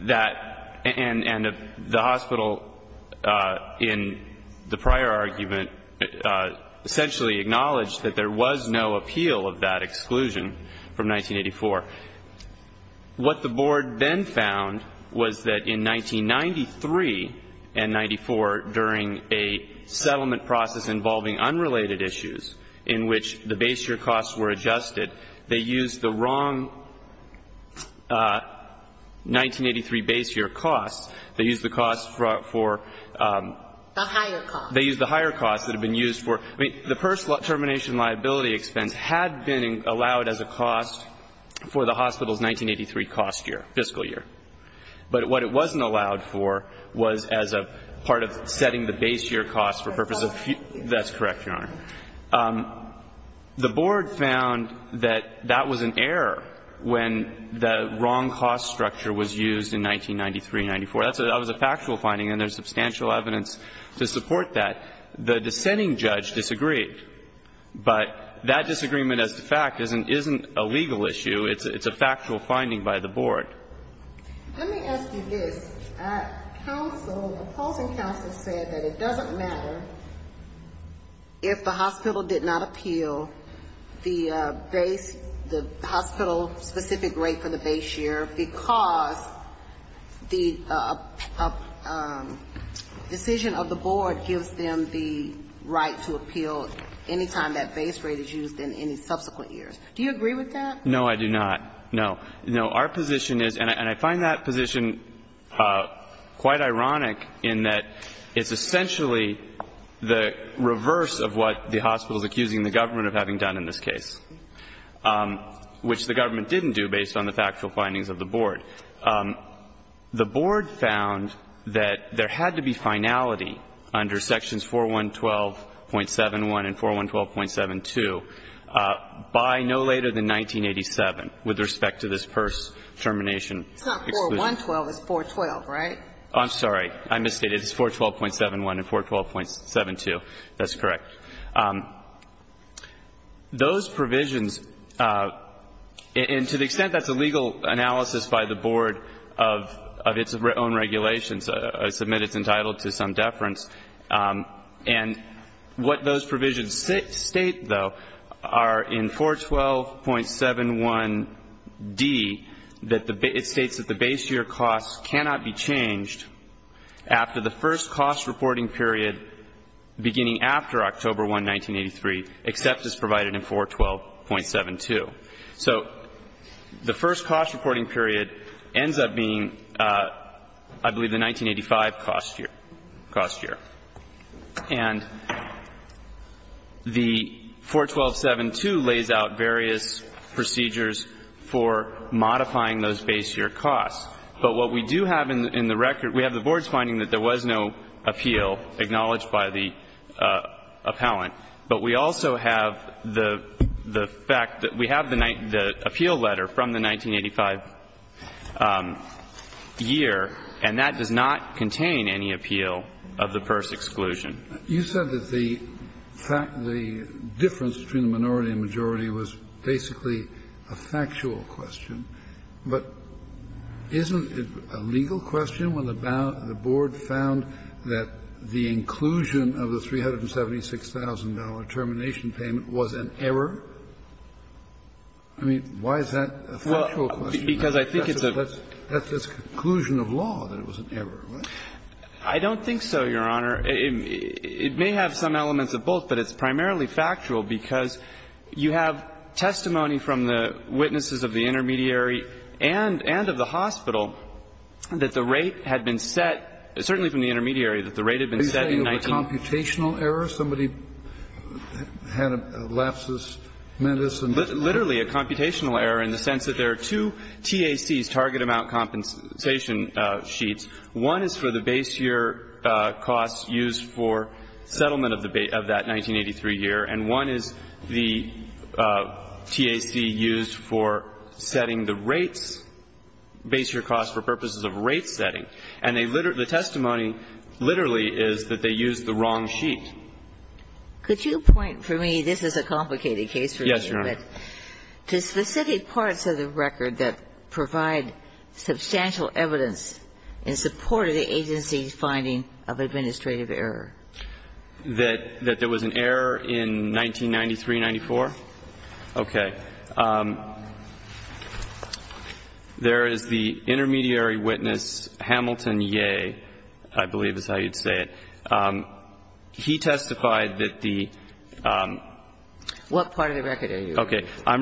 that... And the hospital, in the prior argument, essentially acknowledged that there was no appeal of that exclusion from 1984. What the board then found was that in 1993 and 1994, during a settlement process involving unrelated issues in which the base year costs were adjusted, they used the wrong 1983 base year costs. They used the higher costs that had been used for... I mean, the PERS termination liability expense had been allowed as a cost for the hospital's 1983 fiscal year. But what it wasn't allowed for was as a part of setting the base year costs for purposes of... That's correct, Your Honor. The board found that that was an error when the wrong cost structure was used in 1993-94. That was a factual finding, and there's substantial evidence to support that. The dissenting judge disagreed. But that disagreement, as a fact, isn't a legal issue. It's a factual finding by the board. Let me ask you this. The opposing counsel said that it doesn't matter if the hospital did not appeal the hospital's specific rate for the base year because the decision of the board gives them the right to appeal any time that base rate is used in any subsequent years. Do you agree with that? No, I do not. No. No, our position is... And I find that position quite ironic in that it's essentially the reverse of what the hospital's accusing the government of having done in this case, which the government didn't do based on the factual findings of the board. The board found that there had to be finality under sections 4112.71 and 4112.72 by no later than 1987, with respect to this first termination. It's not 4112, it's 412, right? I'm sorry, I misstated. It's 412.71 and 412.72. That's correct. Those provisions, and to the extent that's a legal analysis by the board of its own regulations, I submit it's entitled to some deference. And what those provisions state, though, are in 412.71d, it states that the base year cost cannot be changed after the first cost reporting period beginning after October 1, 1983, except as provided in 412.72. So the first cost reporting period ends up being, I believe, the 1985 cost year. And the 412.72 lays out various procedures for modifying those base year costs. But what we do have in the record, we have the board's finding that there was no appeal acknowledged by the appellant, but we also have the fact that we have the appeal letter from the 1985 year, and that does not contain any appeal of the first exclusion. You said that the difference between minority and majority was basically a factual question, but isn't it a legal question when the board found that the inclusion of the $376,000 termination payment was an error? I mean, why is that a factual question? Because I think it's a... That's a conclusion of law that it was an error, right? I don't think so, Your Honor. It may have some elements of both, but it's primarily factual because you have testimony from the witnesses of the intermediary and of the hospital that the rate had been set, certainly from the intermediary, that the rate had been set in 19... Are you saying it was a computational error? Somebody had lapsus medicine. Literally a computational error in the sense that there are two TACs, target amount compensation sheets. One is for the base year costs used for settlement of that 1983 year, and one is the TAC used for setting the rates, base year costs for purposes of rate setting. And the testimony literally is that they used the wrong sheet. Could you point for me, this is a complicated case for me. Yes, Your Honor. To specific parts of the record that provide substantial evidence in support of the agency's finding of administrative error. That there was an error in 1993-94? Okay. There is the intermediary witness, Hamilton Yeh, I believe is how you say it. He testified that the... What part of the record are you referring to? ...in which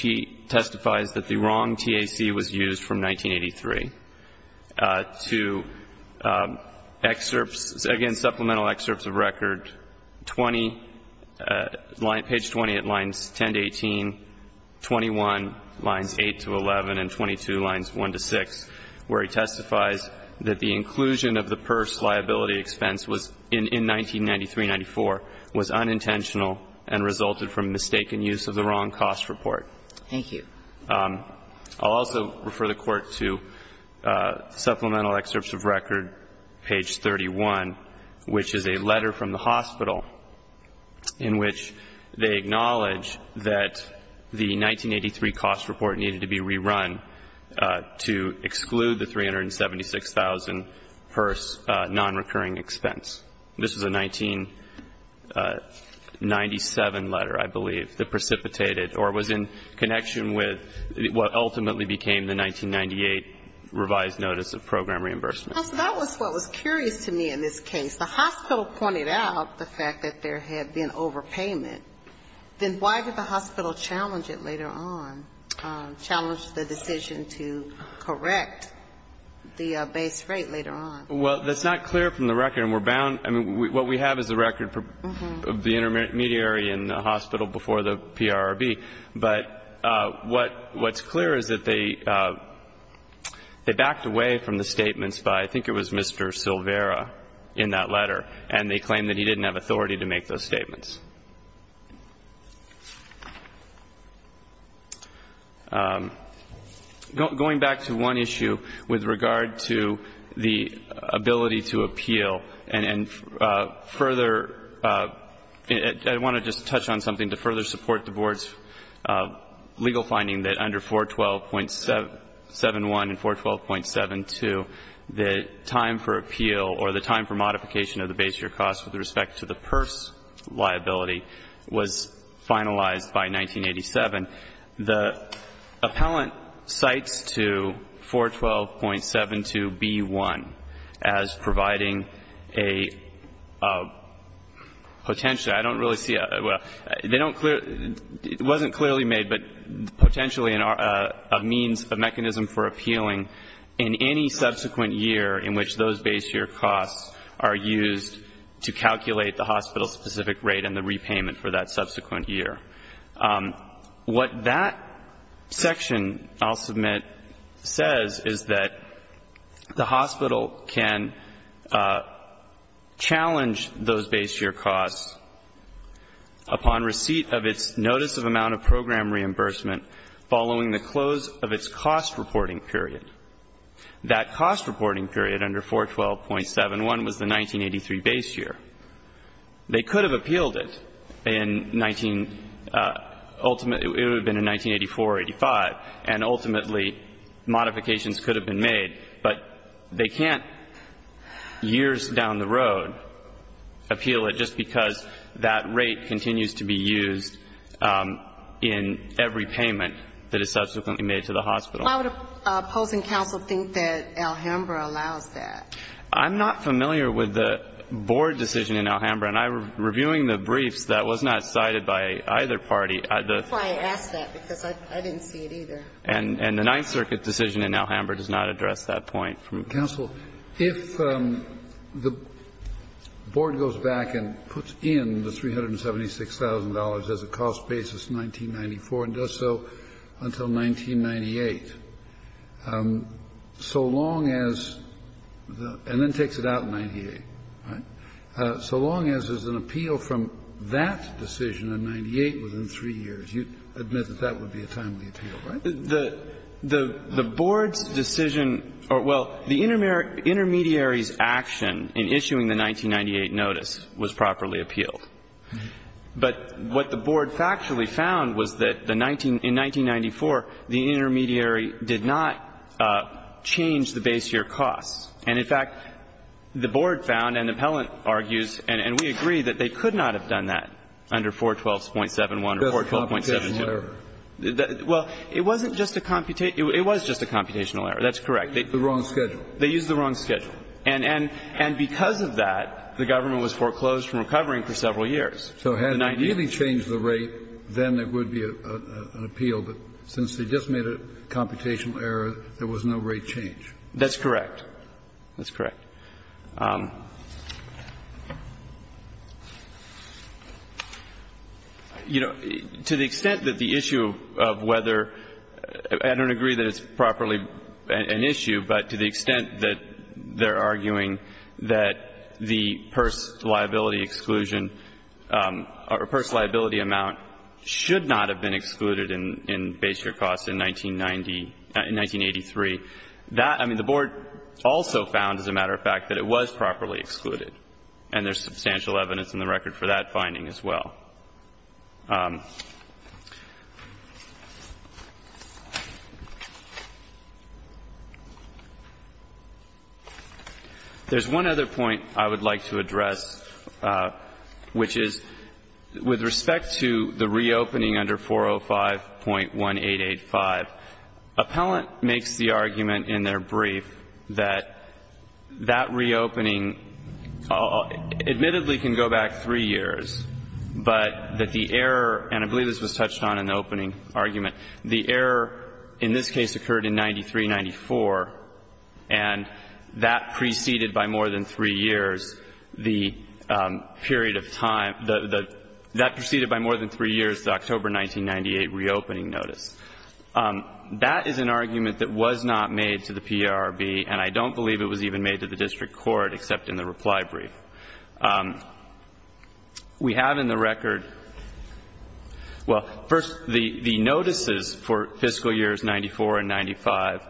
he testifies that the wrong TAC was used from 1983. To excerpts, again supplemental excerpts of records, 20, page 20 at lines 10-18, 21 lines 8-11, and 22 lines 1-6, where he testifies that the inclusion of the PERS liability expense in 1993-94 was unintentional and resulted from mistaken use of the wrong cost report. Thank you. I'll also refer the Court to supplemental excerpts of record, page 31, which is a letter from the hospital in which they acknowledge that the 1983 cost report needed to be rerun to exclude the $376,000 PERS non-recurring expense. This is a 1997 letter, I believe, that precipitated or was in connection with what ultimately became the 1998 revised notice of program reimbursement. That was what was curious to me in this case. The hospital pointed out the fact that there had been overpayment. Then why did the hospital challenge it later on, challenge the decision to correct the base rate later on? Well, that's not clear from the record. What we have is the record of the intermediary in the hospital before the PRRB. But what's clear is that they backed away from the statements by, I think it was Mr. Silvera in that letter, and they claim that he didn't have authority to make those statements. Going back to one issue with regard to the ability to appeal and further, I want to just touch on something to further support the Board's legal finding that under 412.71 and 412.72, the time for appeal or the time for modification of the base year cost with respect to the PERS liability was finalized by 1987. The appellant cites to 412.72B1 as providing a potential, I don't really see, it wasn't clearly made, but potentially a means, a mechanism for appealing in any subsequent year in which those base year costs are used to calculate the hospital-specific rate and the repayment for that subsequent year. What that section, I'll submit, says is that the hospital can challenge those base year costs upon receipt of its notice of amount of program reimbursement following the close of its cost reporting period. That cost reporting period under 412.71 was the 1983 base year. They could have appealed it in 1984 or 1985, and ultimately modifications could have been made, but they can't years down the road appeal it just because that rate continues to be used in every payment that is subsequently made to the hospital. Why would a opposing counsel think that Alhambra allows that? I'm not familiar with the board decision in Alhambra, and I'm reviewing the brief that was not cited by either party. That's why I asked that because I didn't see it either. And the Ninth Circuit decision in Alhambra does not address that point. Counsel, if the board goes back and puts in the $376,000 as a cost basis in 1994 and does so until 1998, so long as, and then takes it out in 1998, right, so long as there's an appeal from that decision in 1998 within three years, you'd admit that that would be a timely appeal, right? The board's decision or, well, the intermediary's action in issuing the 1998 notice was properly appealed. But what the board factually found was that in 1994, the intermediary did not change the base year cost. And, in fact, the board found, and the appellant argues, and we agree that they could not have done that under 412.71 or 412.71. That's a computational error. Well, it wasn't just a computational error. It was just a computational error. That's correct. The wrong schedule. They used the wrong schedule. And because of that, the government was foreclosed from recovering for several years. So had they really changed the rate, then it would be an appeal. But since they just made a computational error, there was no rate change. That's correct. That's correct. You know, to the extent that the issue of whether, I don't agree that it's properly an issue, but to the extent that they're arguing that the purse liability exclusion or purse liability amount should not have been excluded in base year costs in 1983, that, I mean, the board also found, as a matter of fact, that it was properly excluded. And there's substantial evidence in the record for that finding as well. There's one other point I would like to address, which is with respect to the reopening under 405.1885. Appellant makes the argument in their brief that that reopening, admittedly can go back three years, but that the error, and I believe this was touched on in the opening argument, the error in this case occurred in 93-94, and that preceded by more than three years the period of time, that preceded by more than three years the October 1998 reopening notice. That is an argument that was not made to the PRB, and I don't believe it was even made to the district court except in the reply brief. We have in the record, well, first, the notices for fiscal years 94 and 95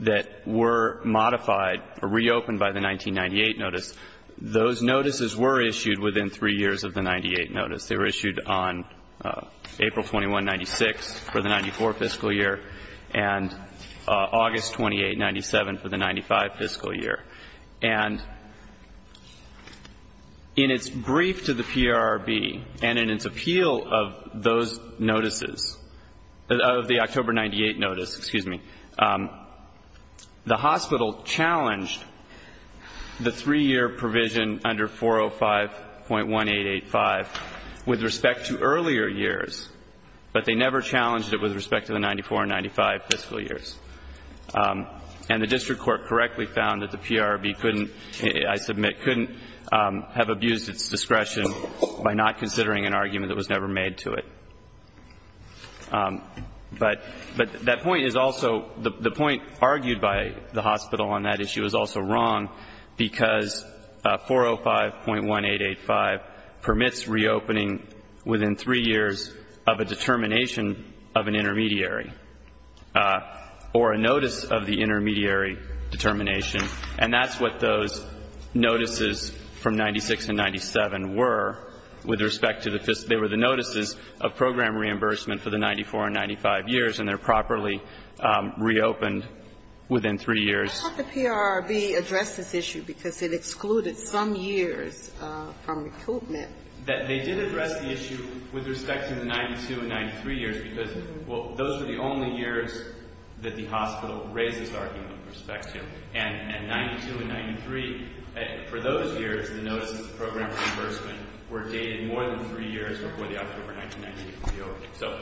that were modified, reopened by the 1998 notice, those notices were issued within three years of the 98 notice. They were issued on April 21, 96 for the 94 fiscal year, and August 28, 97 for the 95 fiscal year. And in its brief to the PRB and in its appeal of those notices, of the October 98 notice, excuse me, the hospital challenged the three-year provision under 405.1885 with respect to earlier years, but they never challenged it with respect to the 94 and 95 fiscal years. And the district court correctly found that the PRB couldn't, I submit, couldn't have abused its discretion by not considering an argument that was never made to it. But that point is also, the point argued by the hospital on that issue is also wrong because 405.1885 permits reopening within three years of a determination of an intermediary. Or a notice of the intermediary determination. And that's what those notices from 96 and 97 were with respect to the, they were the notices of program reimbursement for the 94 and 95 years and they're properly reopened within three years. How did the PRB address this issue because it excluded some years from recruitment? They did address the issue with respect to the 92 and 93 years because those were the only years that the hospital raised this argument with respect to. And 92 and 93, for those years, the notice of the program reimbursement were dated more than three years before the October 1998 appeal. So,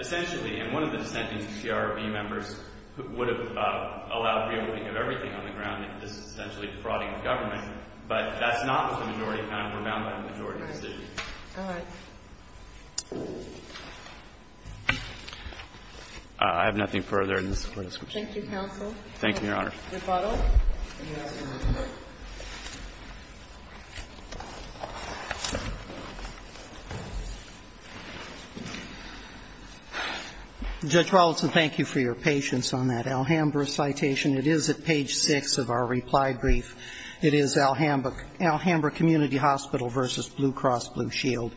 essentially, one of the intentions of the PRB members would have allowed the reopening of everything on the ground because it's essentially a fraudulent government, but that's not what the majority found, or not what the majority agreed to. I have nothing further. Thank you, counsel. Thank you, Your Honor. Judge Rawlinson, thank you for your patience on that Alhambra citation. It is at page six of our reply brief. It is Alhambra Community Hospital versus Blue Cross Blue Shield.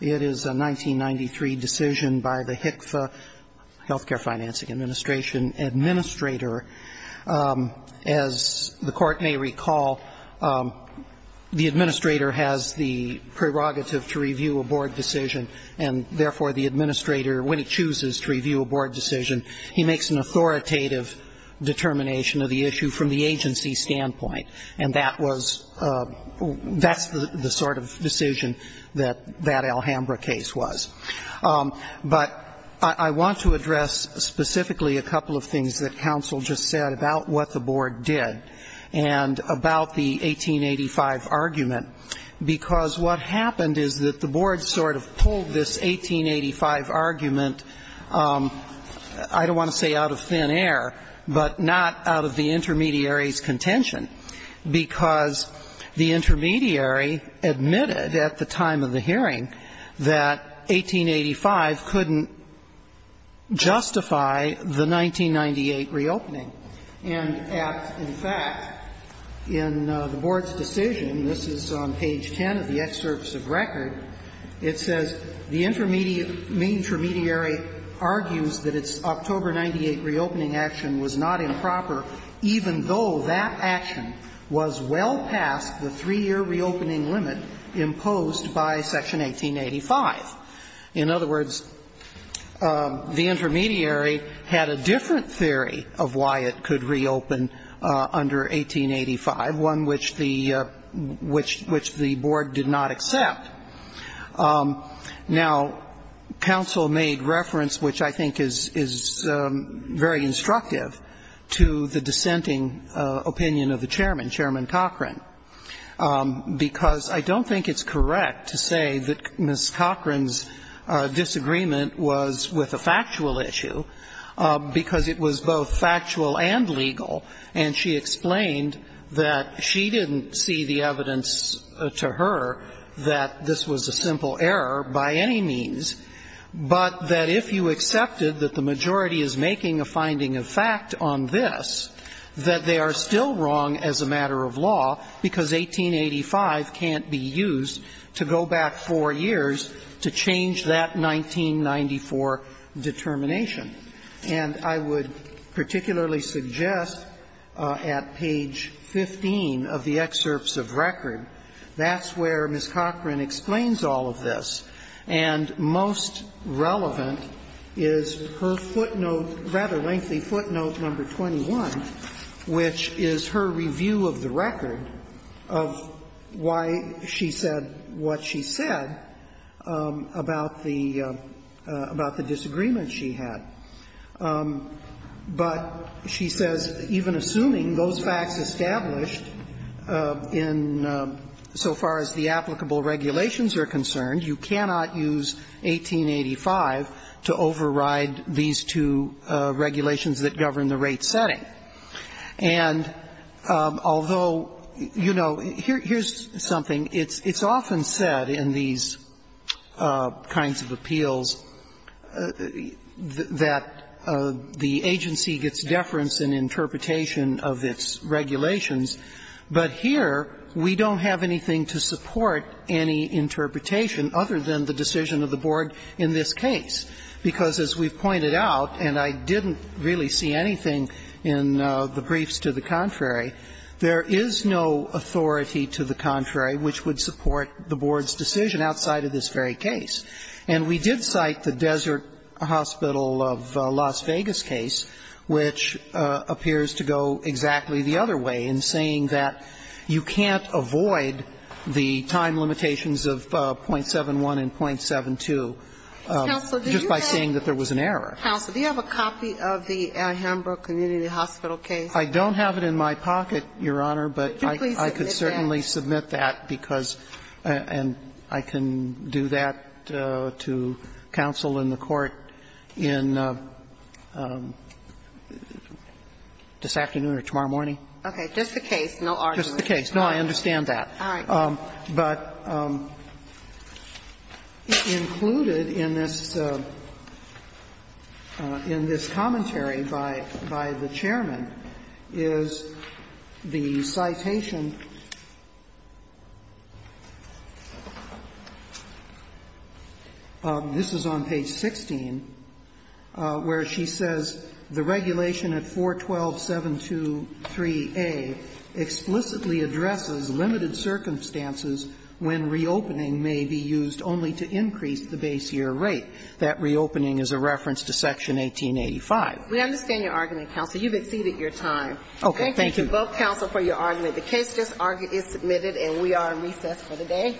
It is a 1993 decision by the HCFA, Healthcare Financing Administration, administrator. As the Court may recall, the administrator has the prerogative to review a board decision and, therefore, the administrator, when he chooses to review a board decision, he makes an authoritative determination of the issue from the agency's standpoint. And that was... that Alhambra case was. But I want to address, specifically, a couple of things that counsel just said about what the board did and about the 1885 argument because what happened is that the board sort of pulled this 1885 argument, I don't want to say out of thin air, but not out of the intermediary's contention because the intermediary admitted at the time of the hearing that 1885 couldn't justify the 1998 reopening. And, in fact, in the board's decision, this is on page 10 of the excerpts of record, it says the intermediary argues that its October 1998 reopening action was not improper even though that action was well past the three-year reopening limit imposed by Section 1885. In other words, the intermediary had a different theory of why it could reopen under 1885, one which the board did not accept. Now, counsel made reference, which I think is very instructive, to the dissenting opinion of the chairman, Chairman Cochran, because I don't think it's correct to say that Ms. Cochran's disagreement was with a factual issue because it was both factual and legal, and she explained that she didn't see the evidence to her that this was a simple error by any means, but that if you accepted that the majority is making a finding of fact on this, that they are still wrong as a matter of law because 1885 can't be used to go back four years to change that 1994 determination. And I would particularly suggest at page 15 of the excerpts of record, that's where Ms. Cochran explains all of this, and most relevant is her footnote, rather lengthy footnote number 21, which is her review of the record of why she said what she said about the disagreement she had. But she says, even assuming those facts established in so far as the applicable regulations are concerned, you cannot use 1885 to override these two regulations that govern the rate setting. And although, you know, here's something. It's often said in these kinds of appeals that the agency gets deference in interpretation of its regulations, but here we don't have anything to support any interpretation other than the decision of the board in this case, because as we've pointed out, and I didn't really see anything in the briefs to the contrary, there is no authority to the contrary which would support the board's decision outside of this very case. And we did cite the Desert Hospital of Las Vegas case, which appears to go exactly the other way in saying that you can't avoid the time limitations of .71 and .72 just by saying that there was an error. Counsel, do you have a copy of the Ann Hambro Community Hospital case? I don't have it in my pocket, Your Honor, but I could certainly submit that, and I can do that to counsel in the court this afternoon or tomorrow morning. Okay, just the case, no arguments. Just the case, no, I understand that. All right. But included in this commentary by the chairman is the citation. This is on page 16, where she says, the regulation at 412.723A explicitly addresses limited circumstances when reopening may be used only to increase the base year rate. That reopening is a reference to Section 1885. We understand your argument, counsel. You've exceeded your time. Okay, thank you. Thank you to both counsel for your argument. The case is submitted, and we are on recess for the day.